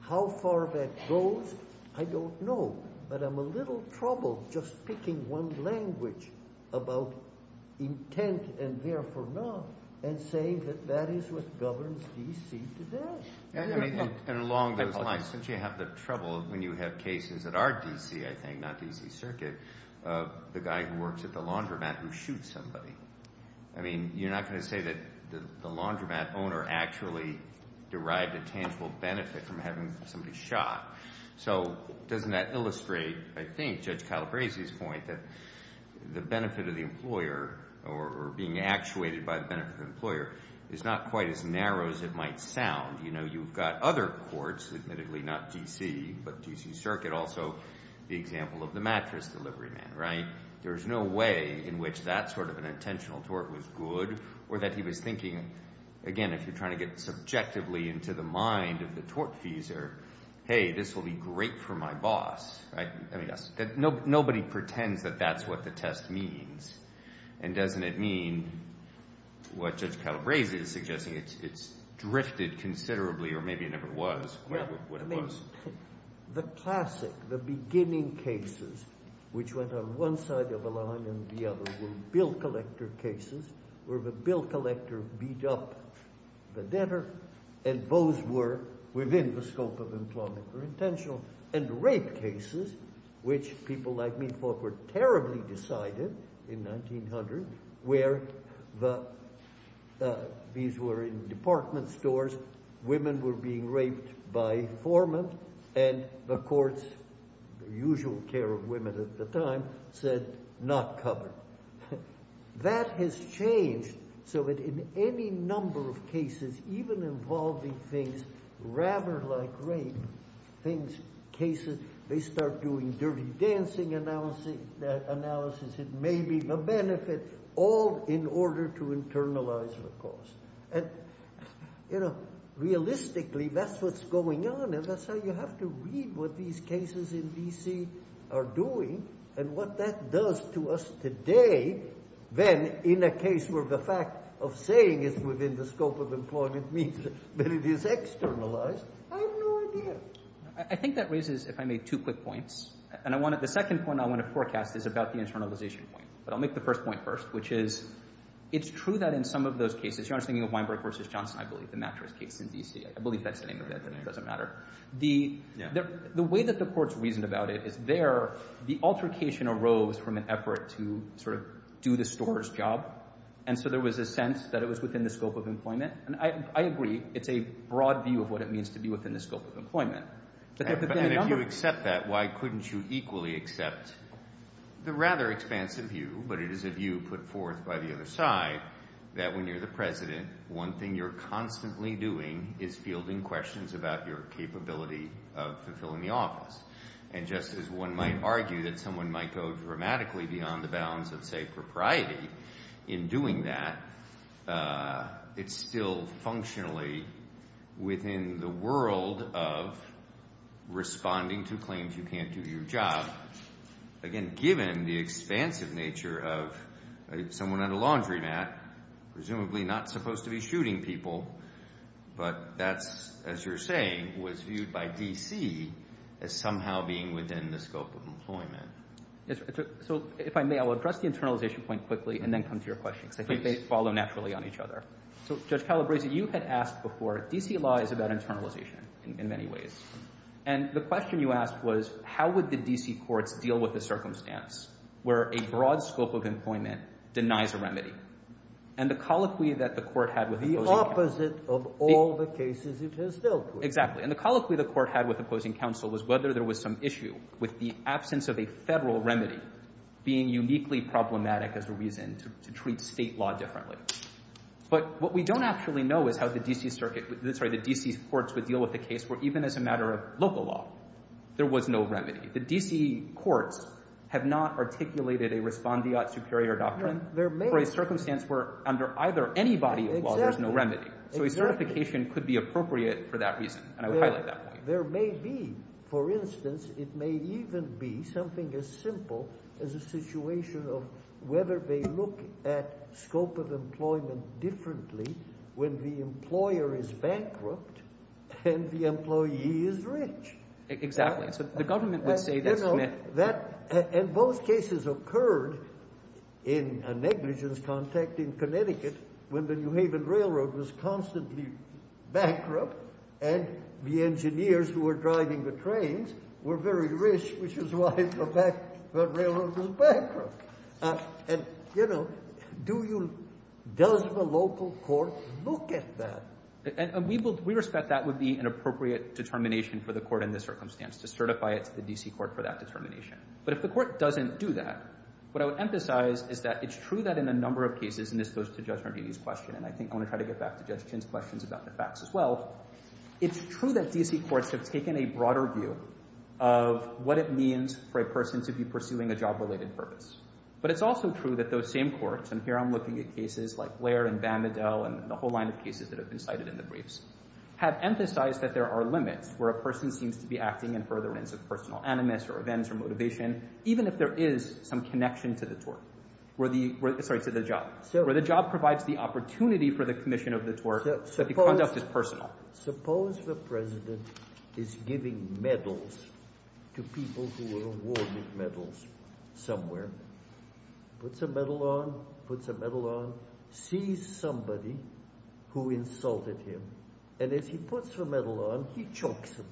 How far that goes, I don't know, but I'm a little troubled just picking one language about intent and therefore not and saying that that is what governs D.C. today. And along those lines, since you have the trouble when you have cases that are D.C., I think, not D.C. Circuit, the guy who works at the laundromat who shoots somebody. I mean, you're not going to say that the laundromat owner actually derived a tangible benefit from having somebody shot. So doesn't that illustrate, I think, Judge Calabresi's point that the benefit of the employer or being actuated by the benefit of the employer is not quite as narrow as it might sound? You've got other courts, admittedly not D.C., but D.C. Circuit also, the example of the mattress delivery man, right? There's no way in which that sort of an intentional tort was good or that he was thinking, again, if you're trying to get subjectively into the mind of the tortfeasor, hey, this will be great for my boss. Nobody pretends that that's what the test means. And doesn't it mean, what Judge Calabresi is suggesting, it's drifted considerably, or maybe it never was what it was. The classic, the beginning cases, which went on one side of the line and the other were bill collector cases, where the bill collector beat up the debtor, and those were within the scope of employment or intentional. And rape cases, which people like me thought were terribly decided in 1900, where these were in department stores, women were being raped by informants, and the courts, the usual care of women at the time, said, not covered. That has changed so that in any number of cases, even involving things rather like rape, cases, they start doing dirty dancing analysis, it may be the benefit, all in order to internalize the cause. And, you know, realistically, that's what's going on, and that's how you have to read what these cases in DC are doing, and what that does to us today than in a case where the fact of saying it's within the scope of employment means that it is externalized. I have no idea. I think that raises, if I may, two quick points, and the second point I want to forecast is about the internalization point, but I'll make the first point first, which is it's true that in some of those cases, you're asking me about Weinberg versus Johnson, I believe the mattress case in DC, I believe that's the name of that, but it doesn't matter. The way that the courts reasoned about it is there, the altercation arose from an effort to sort of do the store's job, and so there was a sense that it was within the scope of employment, and I agree it's a broad view of what it means to be within the scope of employment. If you accept that, why couldn't you equally accept the rather expansive view, but it is a view put forth by the other side, that when you're the president, one thing you're constantly doing is fielding questions about your capability of fulfilling the office, and just as one might argue that someone might go dramatically beyond the bounds of, say, propriety in doing that, it's still functionally within the world of responding to claims you can't do your job, again, given the expansive nature of someone on a laundromat, presumably not supposed to be shooting people, but that's, as you're saying, was viewed by DC as somehow being within the scope of employment. So if I may, I'll address the internalization point quickly, and then come to your question, because they follow naturally on each other. So, Judge Calabrese, you've been asked before, DC law is about internalization in many ways, and the question you asked was, how would the DC court deal with the circumstance where a broad scope of employment denies a remedy, and the colloquy that the court had with opposing counsel... The opposite of all the cases it has dealt with. Exactly, and the colloquy the court had with opposing counsel was whether there was some issue with the absence of a federal remedy being uniquely problematic as a reason to treat state law differently. But what we don't actually know is how the DC courts would deal with the case where even as a matter of local law, there was no remedy. The DC courts have not articulated a respondeat superior doctrine for a circumstance where under either any body of law there's no remedy. So a certification could be appropriate for that reason, and I would highlight that. There may be, for instance, it may even be something as simple as a situation of whether they look at scope of employment differently when the employer is bankrupt and the employee is rich. Exactly. So the government would say that... And both cases occurred in a negligence context in Connecticut when the New Haven Railroad was constantly bankrupt and the engineers who were driving the trains were very rich, which is why the railroad was bankrupt. And, you know, does the local court look at that? We respect that would be an appropriate determination for the court in this circumstance to certify it to the DC court for that determination. But if the court doesn't do that, what I would emphasize is that it's true that in a number of cases, and this goes to Judge Harvey's question, and I think I want to try to get back to Judge Kinn's questions about the facts as well, it's true that DC courts have taken a broader view of what it means for a person to be pursuing a job-related purpose. But it's also true that those same courts, and here I'm looking at cases like Blair and Vanderdale and the whole line of cases that have been cited in the briefs, have emphasized that there are limits where a person seems to be acting in furtherance of personal animus or events or motivation, even if there is some connection to this work, sorry, to the job, where the job provides the opportunity for the commission of this work that the conduct is personal. Suppose the president is giving medals to people who were awarded medals somewhere, puts a medal on, puts a medal on, sees somebody who insulted him, and as he puts the medal on, he chokes him.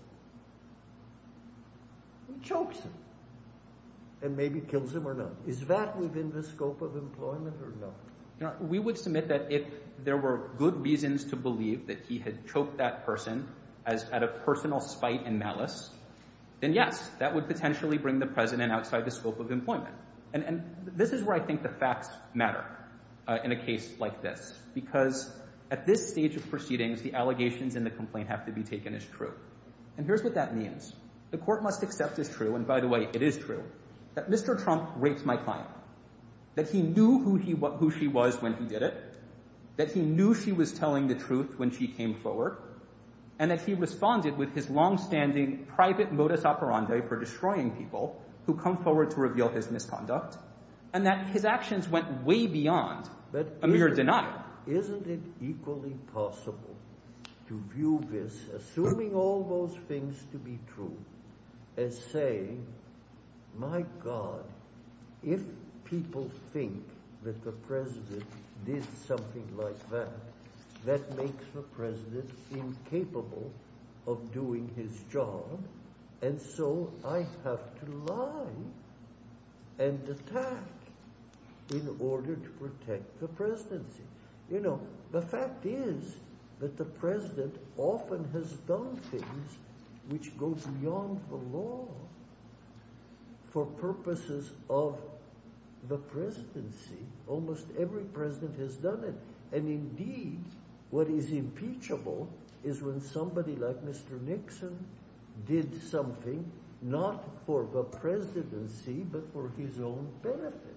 He chokes him, and maybe kills him or not. Is that within the scope of employment or not? We would submit that if there were good reasons to believe that he had choked that person out of personal spite and malice, then yes, that would potentially bring the president outside the scope of employment. And this is where I think the facts matter in a case like this, because at this stage of proceedings, the allegations and the complaint have to be taken as true. And here's what that means. The court must accept as true, and by the way, it is true, that Mr. Trump raked my client, that he knew who she was when he did it, that he knew she was telling the truth when she came forward, and that he responded with his longstanding private modus operandi for destroying people who come forward to reveal his misconduct, and that his actions went way beyond a mere denial. Isn't it equally possible to view this, assuming all those things to be true, as saying, my God, if people think that the president did something like that, that makes the president incapable of doing his job, and so I have to lie and attack in order to protect the presidency. You know, the fact is that the president often has done things which goes beyond the law for purposes of the presidency. Almost every president has done it, and indeed, what is impeachable is when somebody like Mr. Nixon did something not for the presidency, but for his own benefit,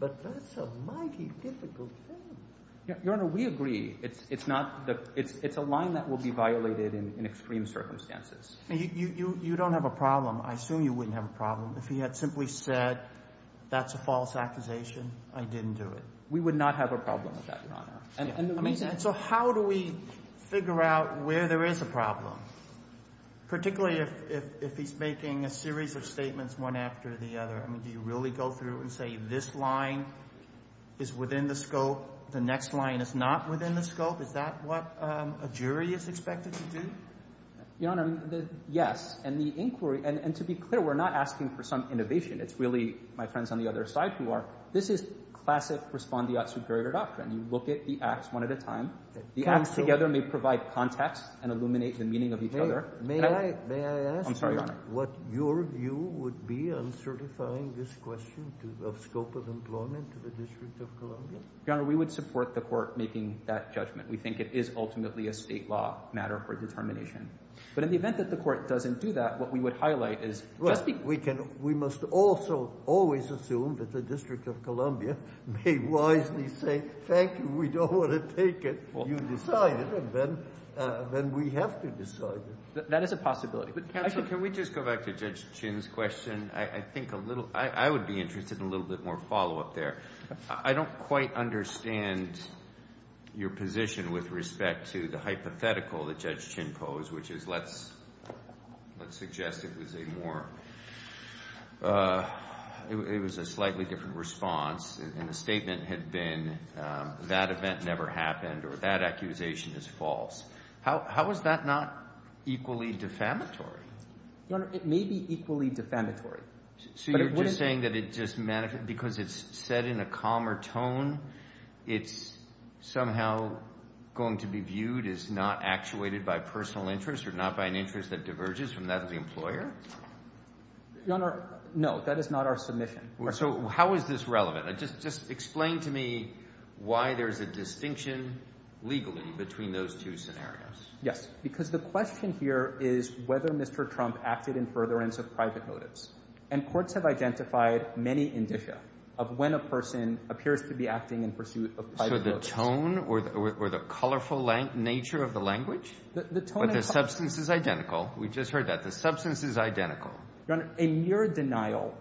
but that's a mighty difficult thing. Your Honor, we agree. It's a line that will be violated in extreme circumstances. You don't have a problem. I assume you wouldn't have a problem if he had simply said, that's a false accusation. I didn't do it. We would not have a problem with that, Your Honor. So how do we figure out where there is a problem, particularly if he's making a series of statements one after the other? Do you really go through and say, this line is within the scope, the next line is not within the scope? Is that what a jury is expected to do? Your Honor, yes, and the inquiry, and to be clear, we're not asking for some innovation. It's really, my friends on the other side who are, this is classic respondeat superior doctrine. You look at the acts one at a time. The acts together may provide context and illuminate the meaning of each other. May I ask what your view would be on certifying this question of scope of employment to the District of Columbia? Your Honor, we would support the court making that judgment. We think it is ultimately a state law matter for determination. But in the event that the court doesn't do that, what we would highlight is, we must also always assume that the District of Columbia may wisely say, thank you, we don't want to take it. You decide it, and then we have to decide it. That is a possibility. Counsel, can we just go back to Judge Chin's question? I think a little, I would be interested in a little bit more follow-up there. I don't quite understand your position with respect to the hypothetical that Judge Chin posed, which is, let's suggest it was a more, it was a slightly different response, and the statement had been, that event never happened, or that accusation is false. How is that not equally defamatory? It may be equally defamatory. So you're just saying that it's just, because it's set in a calmer tone, it's somehow going to be viewed as not actuated by personal interest or not by an interest that diverges from that of the employer? Your Honor, no, that is not our submission. So how is this relevant? Just explain to me why there's a distinction legally between those two scenarios. Yes, because the question here is whether Mr. Trump acted in furtherance of private motives. And courts have identified many indicia of when a person appears to be acting in pursuit of private motives. So the tone, or the colorful nature of the language? But the substance is identical. We just heard that. The substance is identical. Your Honor, a mere denial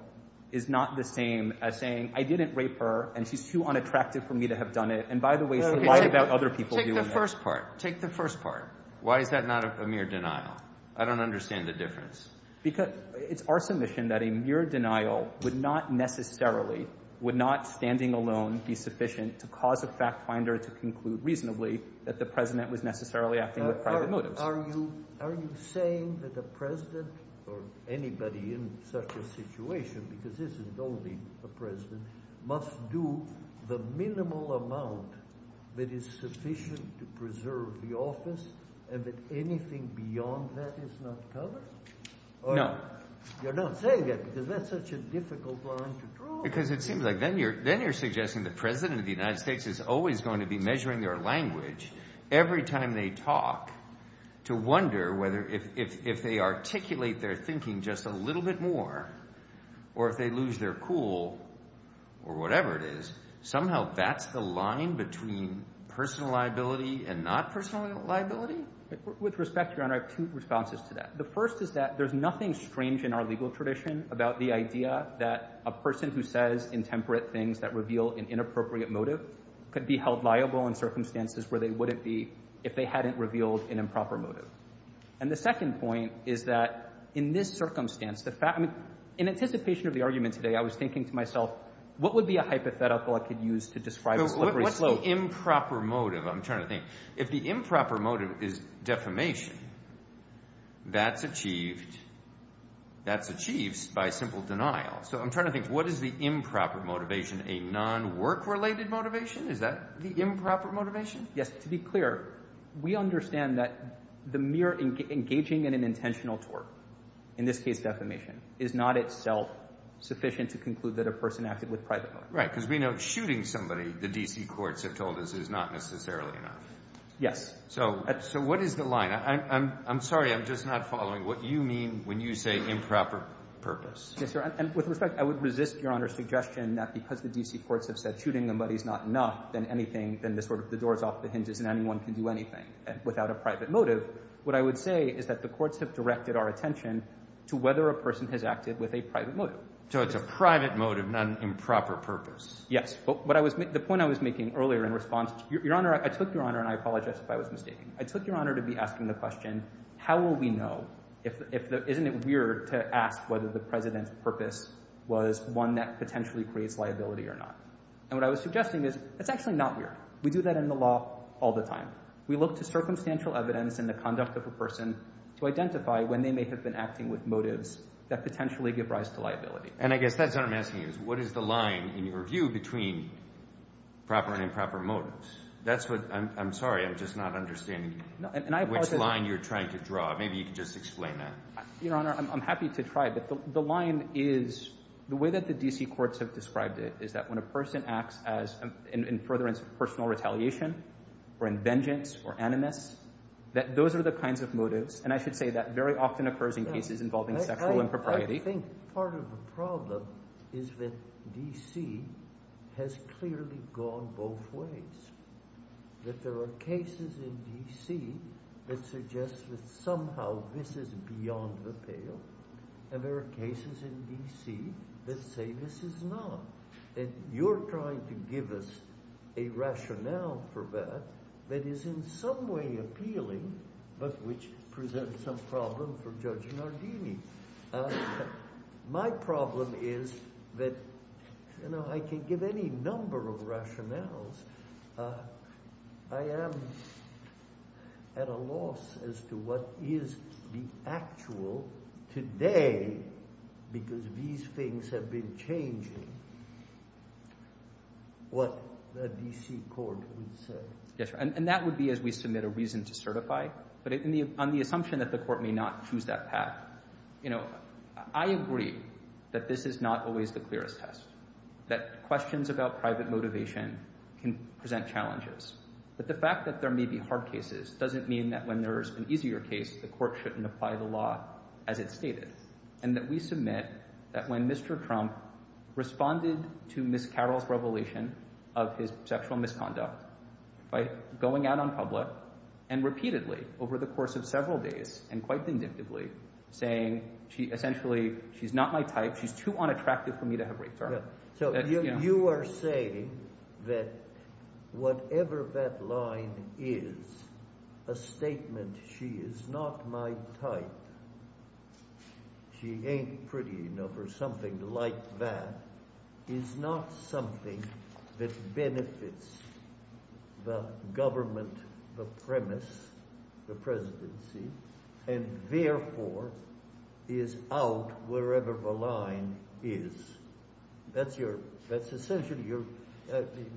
is not the same as saying, I didn't rape her, and she's too unattractive for me to have done it, and by the way, she lied about other people doing it. Take the first part. Take the first part. Why is that not a mere denial? I don't understand the difference. Because it's our submission that a mere denial would not necessarily, would not standing alone be sufficient to cause a fact finder to conclude reasonably that the president would necessarily act in a private motive. Are you saying that the president, or anybody in such a situation, because this is voting for president, must do the minimal amount that is sufficient to preserve the office, and that anything beyond that is not covered? No. You're not saying that, because that's such a difficult line to draw. Because it seems like then you're suggesting the president of the United States is always going to be measuring their language every time they talk to wonder whether if they articulate their thinking just a little bit more, or if they lose their cool, or whatever it is, somehow that's the line between personal liability and not personal liability? With respect, Your Honor, I have two responses to that. The first is that there's nothing strange in our legal tradition about the idea that a person who says intemperate things that reveal an inappropriate motive could be held liable in circumstances where they wouldn't be if they hadn't revealed an improper motive. And the second point is that in this circumstance, in anticipation of the argument today I was thinking to myself, what would be a hypothetical I could use to describe a deliberate motive? If the improper motive is defamation, that's achieved by simple denial. So I'm trying to think, what is the improper motivation? A non-work-related motivation? Is that the improper motivation? Yes. To be clear, we understand that the mere engaging in an intentional tort, in this case defamation, is not itself sufficient to conclude that a person acted with private motive. Right, because we know shooting somebody, the D.C. courts have told us, is not necessarily enough. Yes. So what is the line? I'm sorry, I'm just not following what you mean when you say improper purpose. With respect, I would resist Your Honor's suggestion that because the D.C. courts have said shooting somebody is not enough, then the door is off the hinges and anyone can do anything without a private motive. What I would say is that the courts have directed our attention to whether a person has acted with a private motive. So it's a private motive, not an improper purpose. Yes. The point I was making earlier in response, Your Honor, I took Your Honor, and I apologize if I was mistaken, I took Your Honor to be asking the question, how will we know, isn't it weird to ask whether the President's purpose was one that potentially creates liability or not? And what I was suggesting is, it's actually not weird. We do that in the law all the time. We look to circumstantial evidence in the conduct of a person to identify when they may have been acting with motives that potentially give rise to liability. And I guess that's what I'm asking is, what is the line in your view between proper and improper motives? That's what, I'm sorry, I'm just not understanding which line you're trying to draw. Maybe you can just explain that. Your Honor, I'm happy to try, but the line is, the way that the D.C. courts have described it, is that when a person acts in furtherance of personal retaliation or in vengeance or animus, that those are the kinds of motives, and I should say that very often occurs in cases involving sexual impropriety. I think part of the problem is that D.C. has clearly gone both ways. That there are cases in D.C. that suggest that somehow this is beyond the pale, and there are cases in D.C. that say this is not. And you're trying to give us a rationale for that that is in some way appealing, but which presents some problem for judging our deeming. My problem is that, you know, I can give any number of rationales. I am at a loss as to what is the actual today, because these things have been changing, what a D.C. court would say. And that would be as we submit a reason to certify, but on the assumption that the court may not choose that path, you know, I agree that this is not always the clearest test, that questions about private motivation can present challenges. But the fact that there may be hard cases doesn't mean that when there is an easier case, the court shouldn't apply the law as it stated. And that we submit that when Mr. Trump responded to Ms. Carroll's revelation of his sexual misconduct, by going out on public and repeatedly over the course of several days and quite vindictively, saying, essentially, she's not my type, she's too unattractive for me to have race. So you are saying that whatever that line is, a statement, she is not my type, she ain't pretty enough, or something like that, is not something that benefits the government, the premise, the presidency, and therefore is out wherever the line is. That's your, that's essentially your,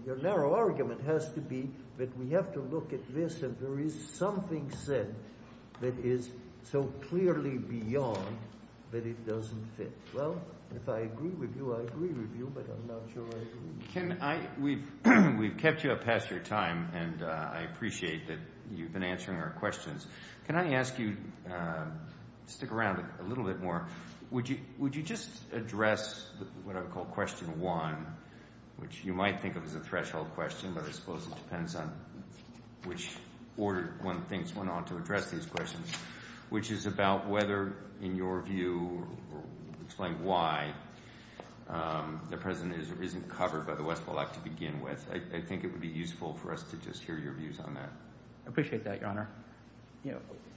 your narrow argument has to be that we have to look at this and there is something said that is so clearly beyond that it doesn't fit. Well, if I agree with you, I agree with you, but I'm not sure I agree. We've kept you up past your time, and I appreciate that you've been answering our questions. Can I ask you to stick around a little bit more? Would you just address what I would call question one, which you might think of as a threshold question, but I suppose it depends on which order one thinks one ought to address these questions, which is about whether, in your view, explain why the president isn't covered by the West Wall Act to begin with. I think it would be useful for us to just hear your views on that. I appreciate that, Your Honor.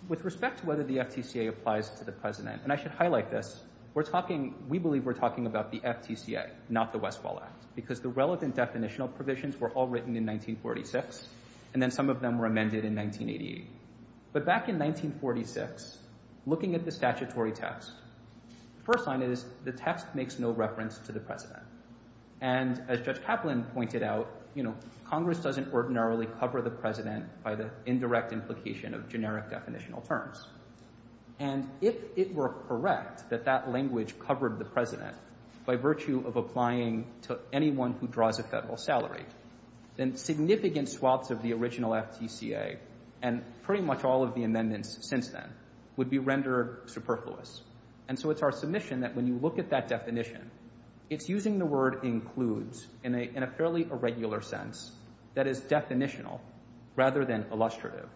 With respect to whether the FTCA applies to the president, and I should highlight this, we're talking, we believe we're talking about the FTCA, not the West Wall Act, because the relevant definitional provisions were all written in 1946, and then some of them were amended in 1988. But back in 1946, looking at the statutory text, the first line is, the text makes no reference to the president. And as Judge Kaplan pointed out, you know, Congress doesn't ordinarily cover the president by the indirect implication of generic definitional terms. And if it were correct that that language covered the president by virtue of applying to anyone who draws a federal salary, then significant swaths of the original FTCA, and pretty much all of the amendments since then, would be rendered superfluous. And so it's our submission that when you look at that definition, it's using the word includes in a fairly irregular sense that is definitional rather than illustrative.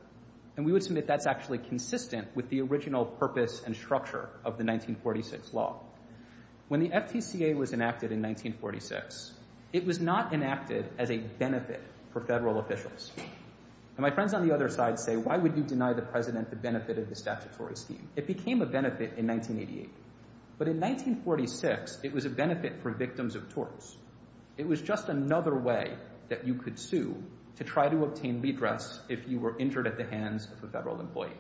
And we would submit that's actually consistent with the original purpose and structure of the 1946 law. When the FTCA was enacted in 1946, it was not enacted as a benefit for federal officials. And my friends on the other side say, why would you deny the president the benefit of the statutory scheme? It became a benefit in 1988. But in 1946, it was a benefit for victims of torts. It was just another way that you could sue to try to obtain redress if you were injured at the hands of a federal employee.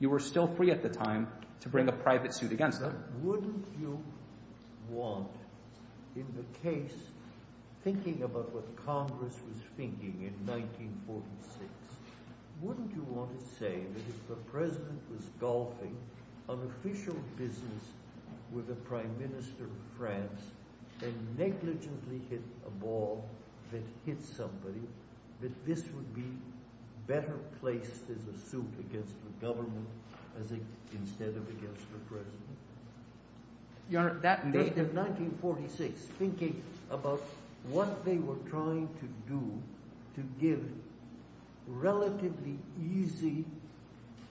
You were still free at the time to bring a private suit against them. But wouldn't you want, in the case, thinking about what Congress was thinking in 1946, wouldn't you want to say that if the president was golfing on official business with the prime minister of France, then negligently hit a ball that hit somebody, that this would be better placed in a suit against the government instead of against the president? In 1946, thinking about what they were trying to do to give relatively easy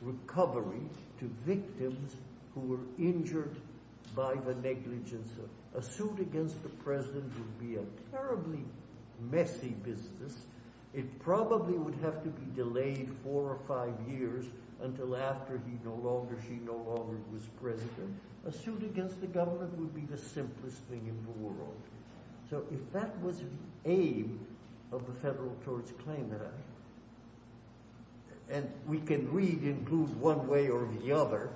recoveries to victims who were injured by the negligence. A suit against the president would be a terribly messy business. It probably would have to be delayed four or five years until after he no longer, she no longer was president. A suit against the government would be the simplest thing in the world. So if that was the aim of the federal torts claimant, and we can read include one way or the other,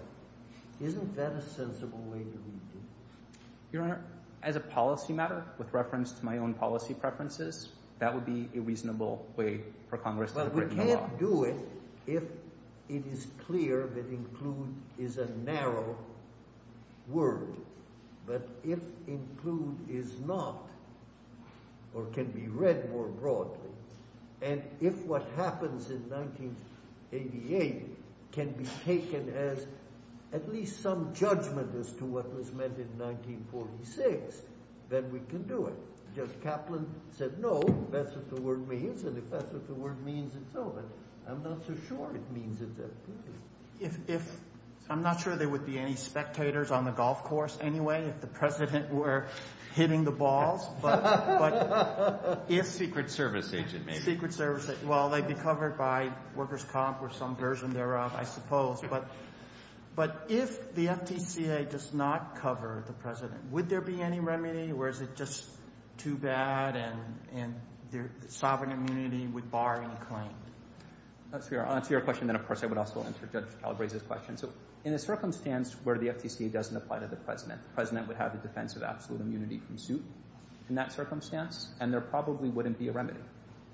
isn't that a sensible way to read it? Your Honor, as a policy matter, with reference to my own policy preferences, that would be a reasonable way for Congress to have written the law. If it is clear that include is a narrow word, but if include is not, or can be read more broadly, and if what happens in 1988 can be taken as at least some judgment as to what was meant in 1946, then we can do it. Judge Kaplan said no, that's what the word means. And if that's what the word means, then so it is. I'm not so sure it means it does. If, I'm not sure there would be any spectators on the golf course anyway if the president were hitting the balls. But if secret service agents, well, they'd be covered by workers' comp or some version thereof, I suppose. But if the FTCA does not cover the president, would there be any remedy, or is it just too bad and sovereign immunity would bar him from claiming? I'll answer your question, then of course I would also answer Judge Kaplan's question. So in a circumstance where the FTCA doesn't apply to the president, the president would have the defense of absolute immunity from suit in that circumstance, and there probably wouldn't be a remedy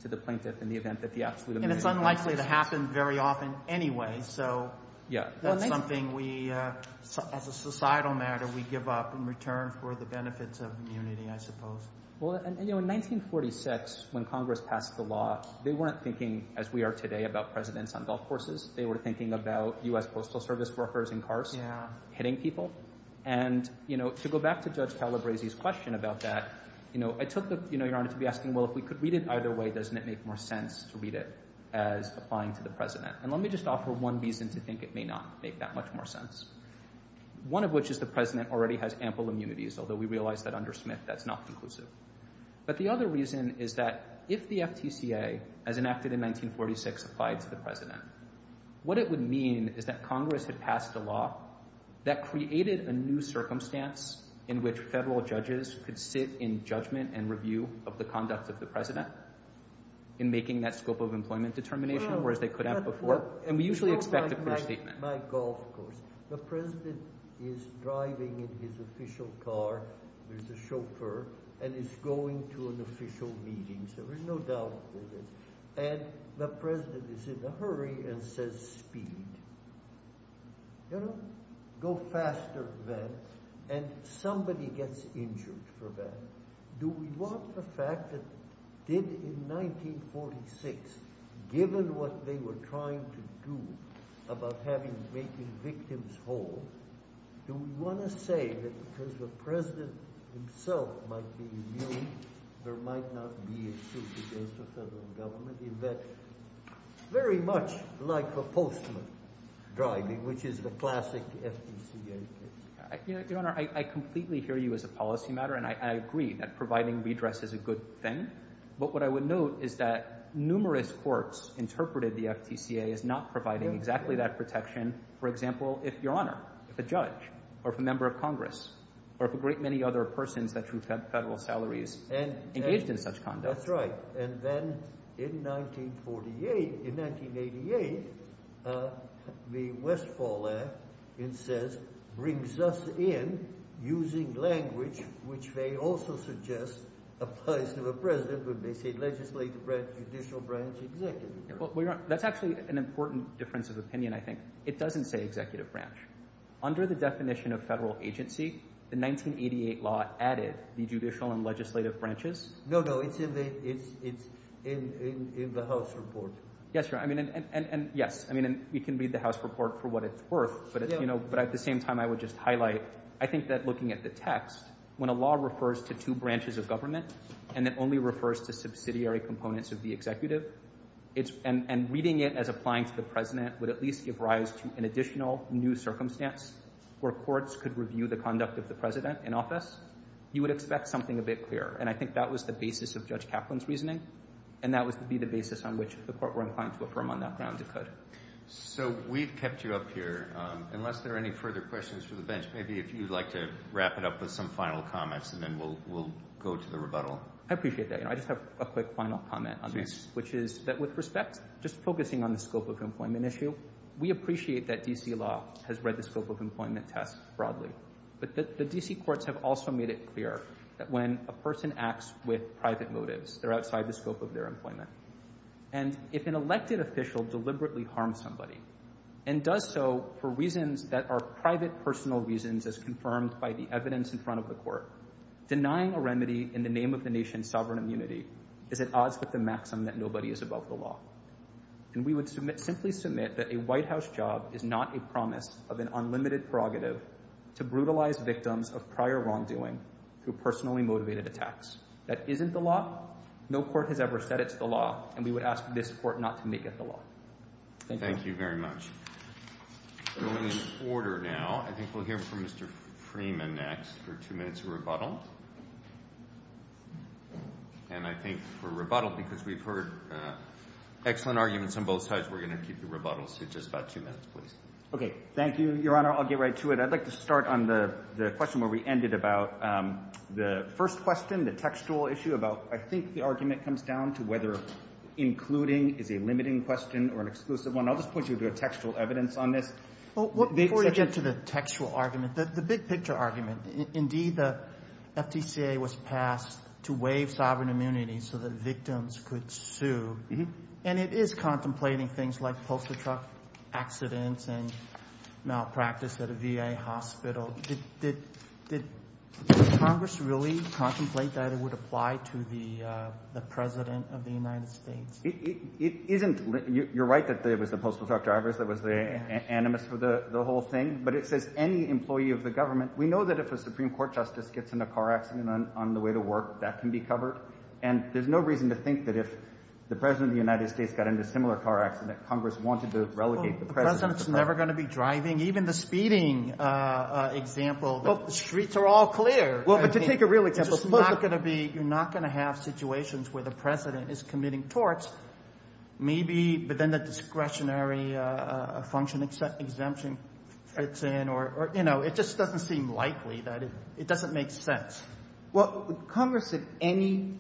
to the plaintiff in the event that the absolute immunity... And it's unlikely to happen very often anyway, so that's something we, as a societal matter, we give up in return for the benefits of immunity, I suppose. Well, in 1946, when Congress passed the law, they weren't thinking as we are today about presidents on golf courses. They were thinking about U.S. Postal Service workers in cars hitting people. And, you know, to go back to Judge Talabresi's question about that, you know, I took the, you know, Your Honor, to be asking, well, if we could read it either way, doesn't it make more sense to read it as applying to the president? And let me just offer one reason to think it may not make that much more sense, one of which is the president already has ample immunities, although we realize that under Smith that's not conclusive. But the other reason is that if the FTCA, as enacted in 1946, applied to the president, what it would mean is that Congress had passed a law that created a new circumstance in which federal judges could sit in judgment and review of the conduct of the president in making that scope of employment determination, whereas they could have before. My golf course. The president is driving in his official car, there's a chauffeur, and he's going to an official meeting, so there's no doubt about it. And the president is in a hurry and says, speed. You know, go faster than, and somebody gets injured for that. Do we want the fact that did in 1946, given what they were trying to do about having making victims whole? Want to say that because the president himself might be, there might not be a suit against the federal government in that very much like a postman driving, which is the classic FTCA. Your Honor, I completely hear you as a policy matter, and I agree that providing redress is a good thing, but what I would note is that numerous courts interpreted the FTCA as not providing exactly that protection, for example, if Your Honor, if a judge, or if a member of Congress, or if a great many other persons who have federal salaries engaged in such conduct. That's right. And then in 1948, in 1988, the Westfall Act, it says, brings us in using language which they also suggest applies to a president when they say legislative branch, judicial branch, executive branch. Well, Your Honor, that's actually an important difference of opinion, I think. It doesn't say executive branch. Under the definition of federal agency, the 1988 law added the judicial and legislative branches. No, no, it's in the House report. Yes, Your Honor, and yes, we can read the House report for what it's worth, but at the same time, I would just highlight, I think that looking at the text, when a law refers to two branches of government, and it only refers to subsidiary components of the executive, and reading it as applying to the president would at least give rise to an additional new circumstance where courts could review the conduct of the president in office, you would expect something a bit clearer. And I think that was the basis of Judge Kaplan's reasoning, and that would be the basis on which the court were inclined to affirm on that ground it could. So we've kept you up here. Unless there are any further questions for the bench, maybe if you'd like to wrap it up with some final comments, and then we'll go to the rebuttal. I appreciate that. I just have a quick final comment on this, which is that with respect, just focusing on the scope of employment issue, we appreciate that D.C. law has read the scope of employment test broadly. But the D.C. courts have also made it clear that when a person acts with private motives, they're outside the scope of their employment. And if an elected official deliberately harms somebody, and does so for reasons that are private personal reasons as confirmed by the evidence in front of the court, denying a remedy in the name of the nation's sovereign immunity is at odds with the maxim that nobody is above the law. And we would simply submit that a White House job is not a promise of an unlimited prerogative to brutalize victims of prior wrongdoing through personally motivated attacks. That isn't the law. No court has ever said it's the law, and we would ask this court not to make it the law. Thank you very much. We're in order now. I think we'll hear from Mr. Freeman next for two minutes of rebuttal. And I think for rebuttal, because we've heard excellent arguments on both sides, we're going to keep the rebuttal to just about two minutes, please. Okay. Thank you, Your Honor. I'll get right to it. I'd like to start on the question where we ended about the first question, the textual issue about I think the argument comes down to whether including is a limiting question or an exclusive one. I'll just point you to the textual evidence on this. Before you get to the textual argument, the big picture argument, indeed the FTCA was passed to waive sovereign immunity so that victims could sue. And it is contemplating things like postal truck accidents and malpractice at a VA hospital. Did Congress really contemplate that it would apply to the President of the United States? You're right that it was the postal truck drivers that was the animus for the whole thing. But it says any employee of the government. We know that if a Supreme Court justice gets in a car accident on the way to work, that can be covered. And there's no reason to think that if the President of the United States got in a similar car accident, Congress wanted to relegate the President. The President's never going to be driving. Even the speeding example, streets are all clear. You're not going to have situations where the President is committing torts. Maybe, but then the discretionary function exemption gets in. It just doesn't seem likely. It doesn't make sense. Well, Congress said any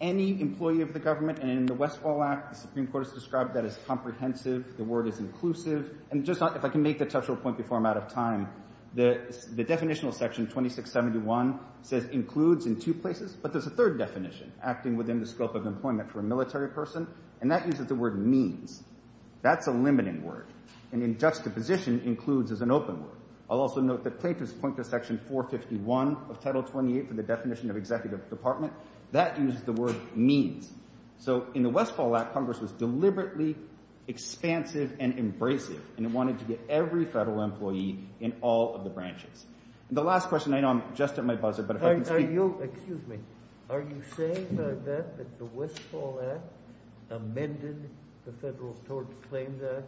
employee of the government. And in the Westfall Act, the Supreme Court has described that as comprehensive. The word is inclusive. And if I can make a touchable point before I'm out of time, the definitional section 2671 says includes in chief places. But there's a third definition acting within the scope of employment for a military person. And that uses the word mean. That's a limiting word. And in just the position, includes is an open word. I'll also note that plaintiffs point to section 451 of Title 28 for the definition of executive department. That uses the word mean. So, in the Westfall Act, Congress was deliberately expansive and embracing. And it wanted to get every federal employee in all of the branches. The last question, I know I'm just at my buzzer, but if I can speak. Are you, excuse me, are you saying that the Westfall Act amended the Federal Tort Claims Act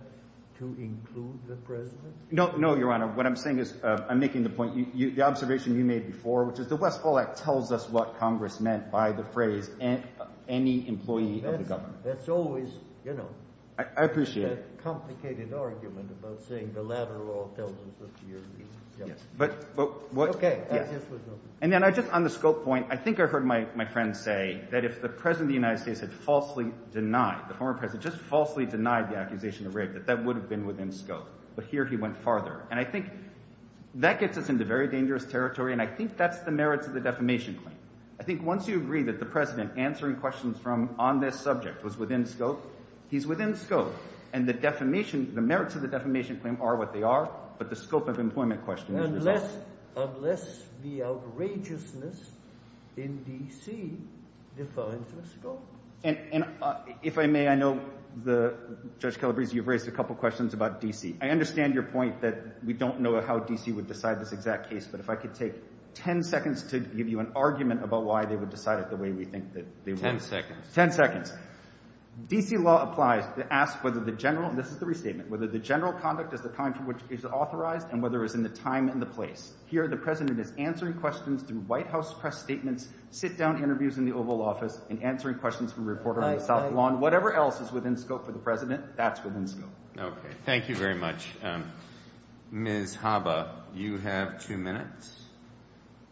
to include the President? No, no, Your Honor. What I'm saying is, I'm making the point, the observation you made before, which is the Westfall Act tells us what Congress meant by the phrase. That's always, you know. I appreciate it. It's a complicated argument about saying the latter law tells us what you're saying. Okay. And then I just, on the scope point, I think I heard my friend say that if the President of the United States had falsely denied, the former President just falsely denied the accusation of rape, that that would have been within scope. But here he went farther. And I think that gets us into very dangerous territory. And I think that's the merits of the defamation claim. I think once you agree that the President answering questions on this subject was within scope, he's within scope. And the merits of the defamation claim are what they are, but the scope of employment questions. Unless the outrageousness in D.C. defines the scope. And if I may, I know, Judge Calabrese, you've raised a couple questions about D.C. I understand your point that we don't know how D.C. would decide this exact case, but if I could take ten seconds to give you an argument about why they would decide it the way we think that they would. Ten seconds. Ten seconds. D.C. law applies to ask whether the general, this is the restatement, whether the general conduct at the time for which it is authorized and whether it's in the time and the place. Here the President is answering questions through White House press statements, sit-down interviews in the Oval Office, and answering questions from reporters on the South Lawn. Whatever else is within scope for the President, that's within scope. Okay. Thank you very much. Ms. Haba, you have two minutes,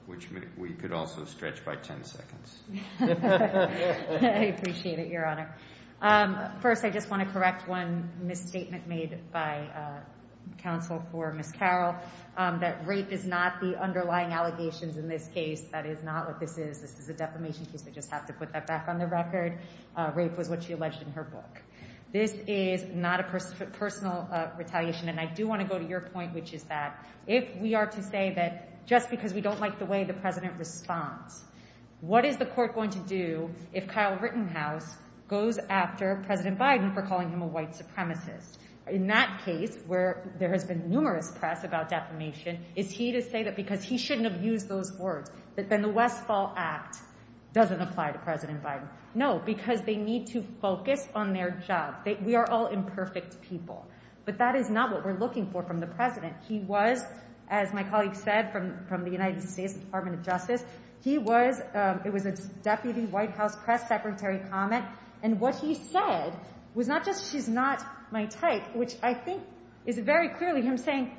which we could also stretch by ten seconds. I appreciate it, Your Honor. First, I just want to correct one misstatement made by counsel for Ms. Carroll, that race is not the underlying allegations in this case. That is not what this is. This is a defamation case. I just have to put that back on the record. Race was what she alleged in her book. This is not a personal retaliation. And I do want to go to your point, which is that if we are to say that just because we don't like the way the President responds, what is the court going to do if Kyle Rittenhouse goes after President Biden for calling him a white supremacist? In that case, where there has been numerous press about defamation, is he to say that because he shouldn't have used those words, that the Westfall Act doesn't apply to President Biden? No, because they need to focus on their job. We are all imperfect people. But that is not what we're looking for from the President. He was, as my colleague said from the United States Department of Justice, he was a deputy White House press secretary comment. And what he said was not just she's not my type, which I think is very clearly him saying,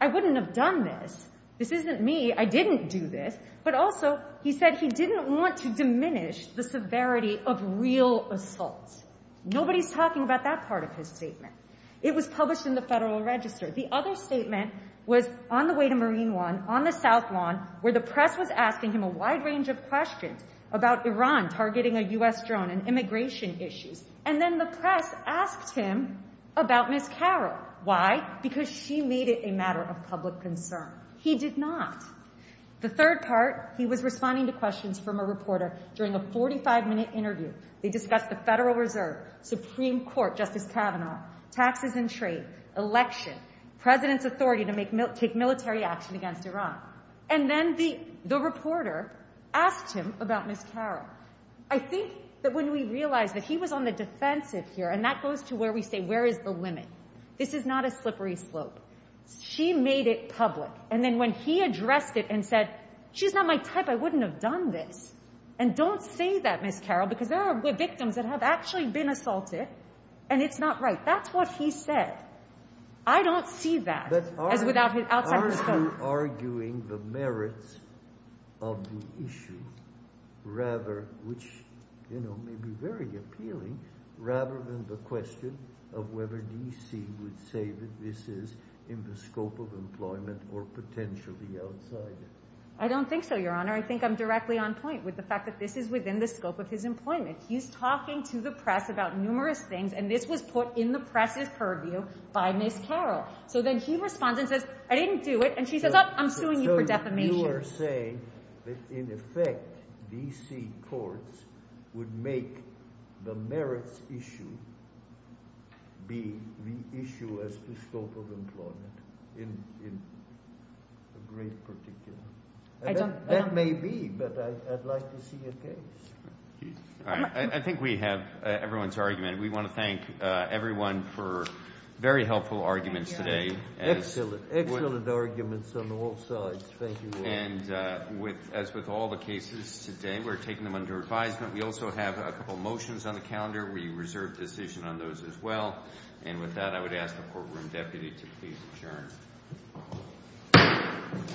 I wouldn't have done this. This isn't me. I didn't do this. But also, he said he didn't want to diminish the severity of real assault. Nobody's talking about that part of his statement. It was published in the Federal Register. The other statement was on the way to Marine One, on the South Lawn, where the press was asking him a wide range of questions about Iran targeting a U.S. drone, an immigration issue. And then the press asked him about Ms. Carroll. Why? Because she made it a matter of public concern. He did not. The third part, he was responding to questions from a reporter during a 45-minute interview. They discussed the Federal Reserve, Supreme Court, Justice Kavanaugh, taxes and trade, election, President's authority to take military action against Iran. And then the reporter asked him about Ms. Carroll. I think that when we realize that he was on the defensive here, and that goes to where we say where is the limit. This is not a slippery slope. She made it public. And then when he addressed it and said, she's not my type. I wouldn't have done this. And don't say that, Ms. Carroll, because there are victims that have actually been assaulted, and it's not right. That's what he said. I don't see that. I don't think so, Your Honor. I think I'm directly on point with the fact that this is within the scope of his employment. He's talking to the press about numerous things, and this was put in the press as per view by Ms. Carroll. So then she responds and says, I didn't do it. And she says, oh, I'm suing you for defamation. So you are saying that in effect, D.C. courts would make the merits issue be the issue as to scope of employment in a great particular. That may be, but I'd like to see it there. I think we have everyone's argument. We want to thank everyone for very helpful arguments today. Excellent. Excellent arguments on both sides. Thank you. And as with all the cases today, we're taking them under advisement. We also have a couple motions on the calendar. We reserve decision on those as well. And with that, I would ask the courtroom deputy to please adjourn. Court is adjourned.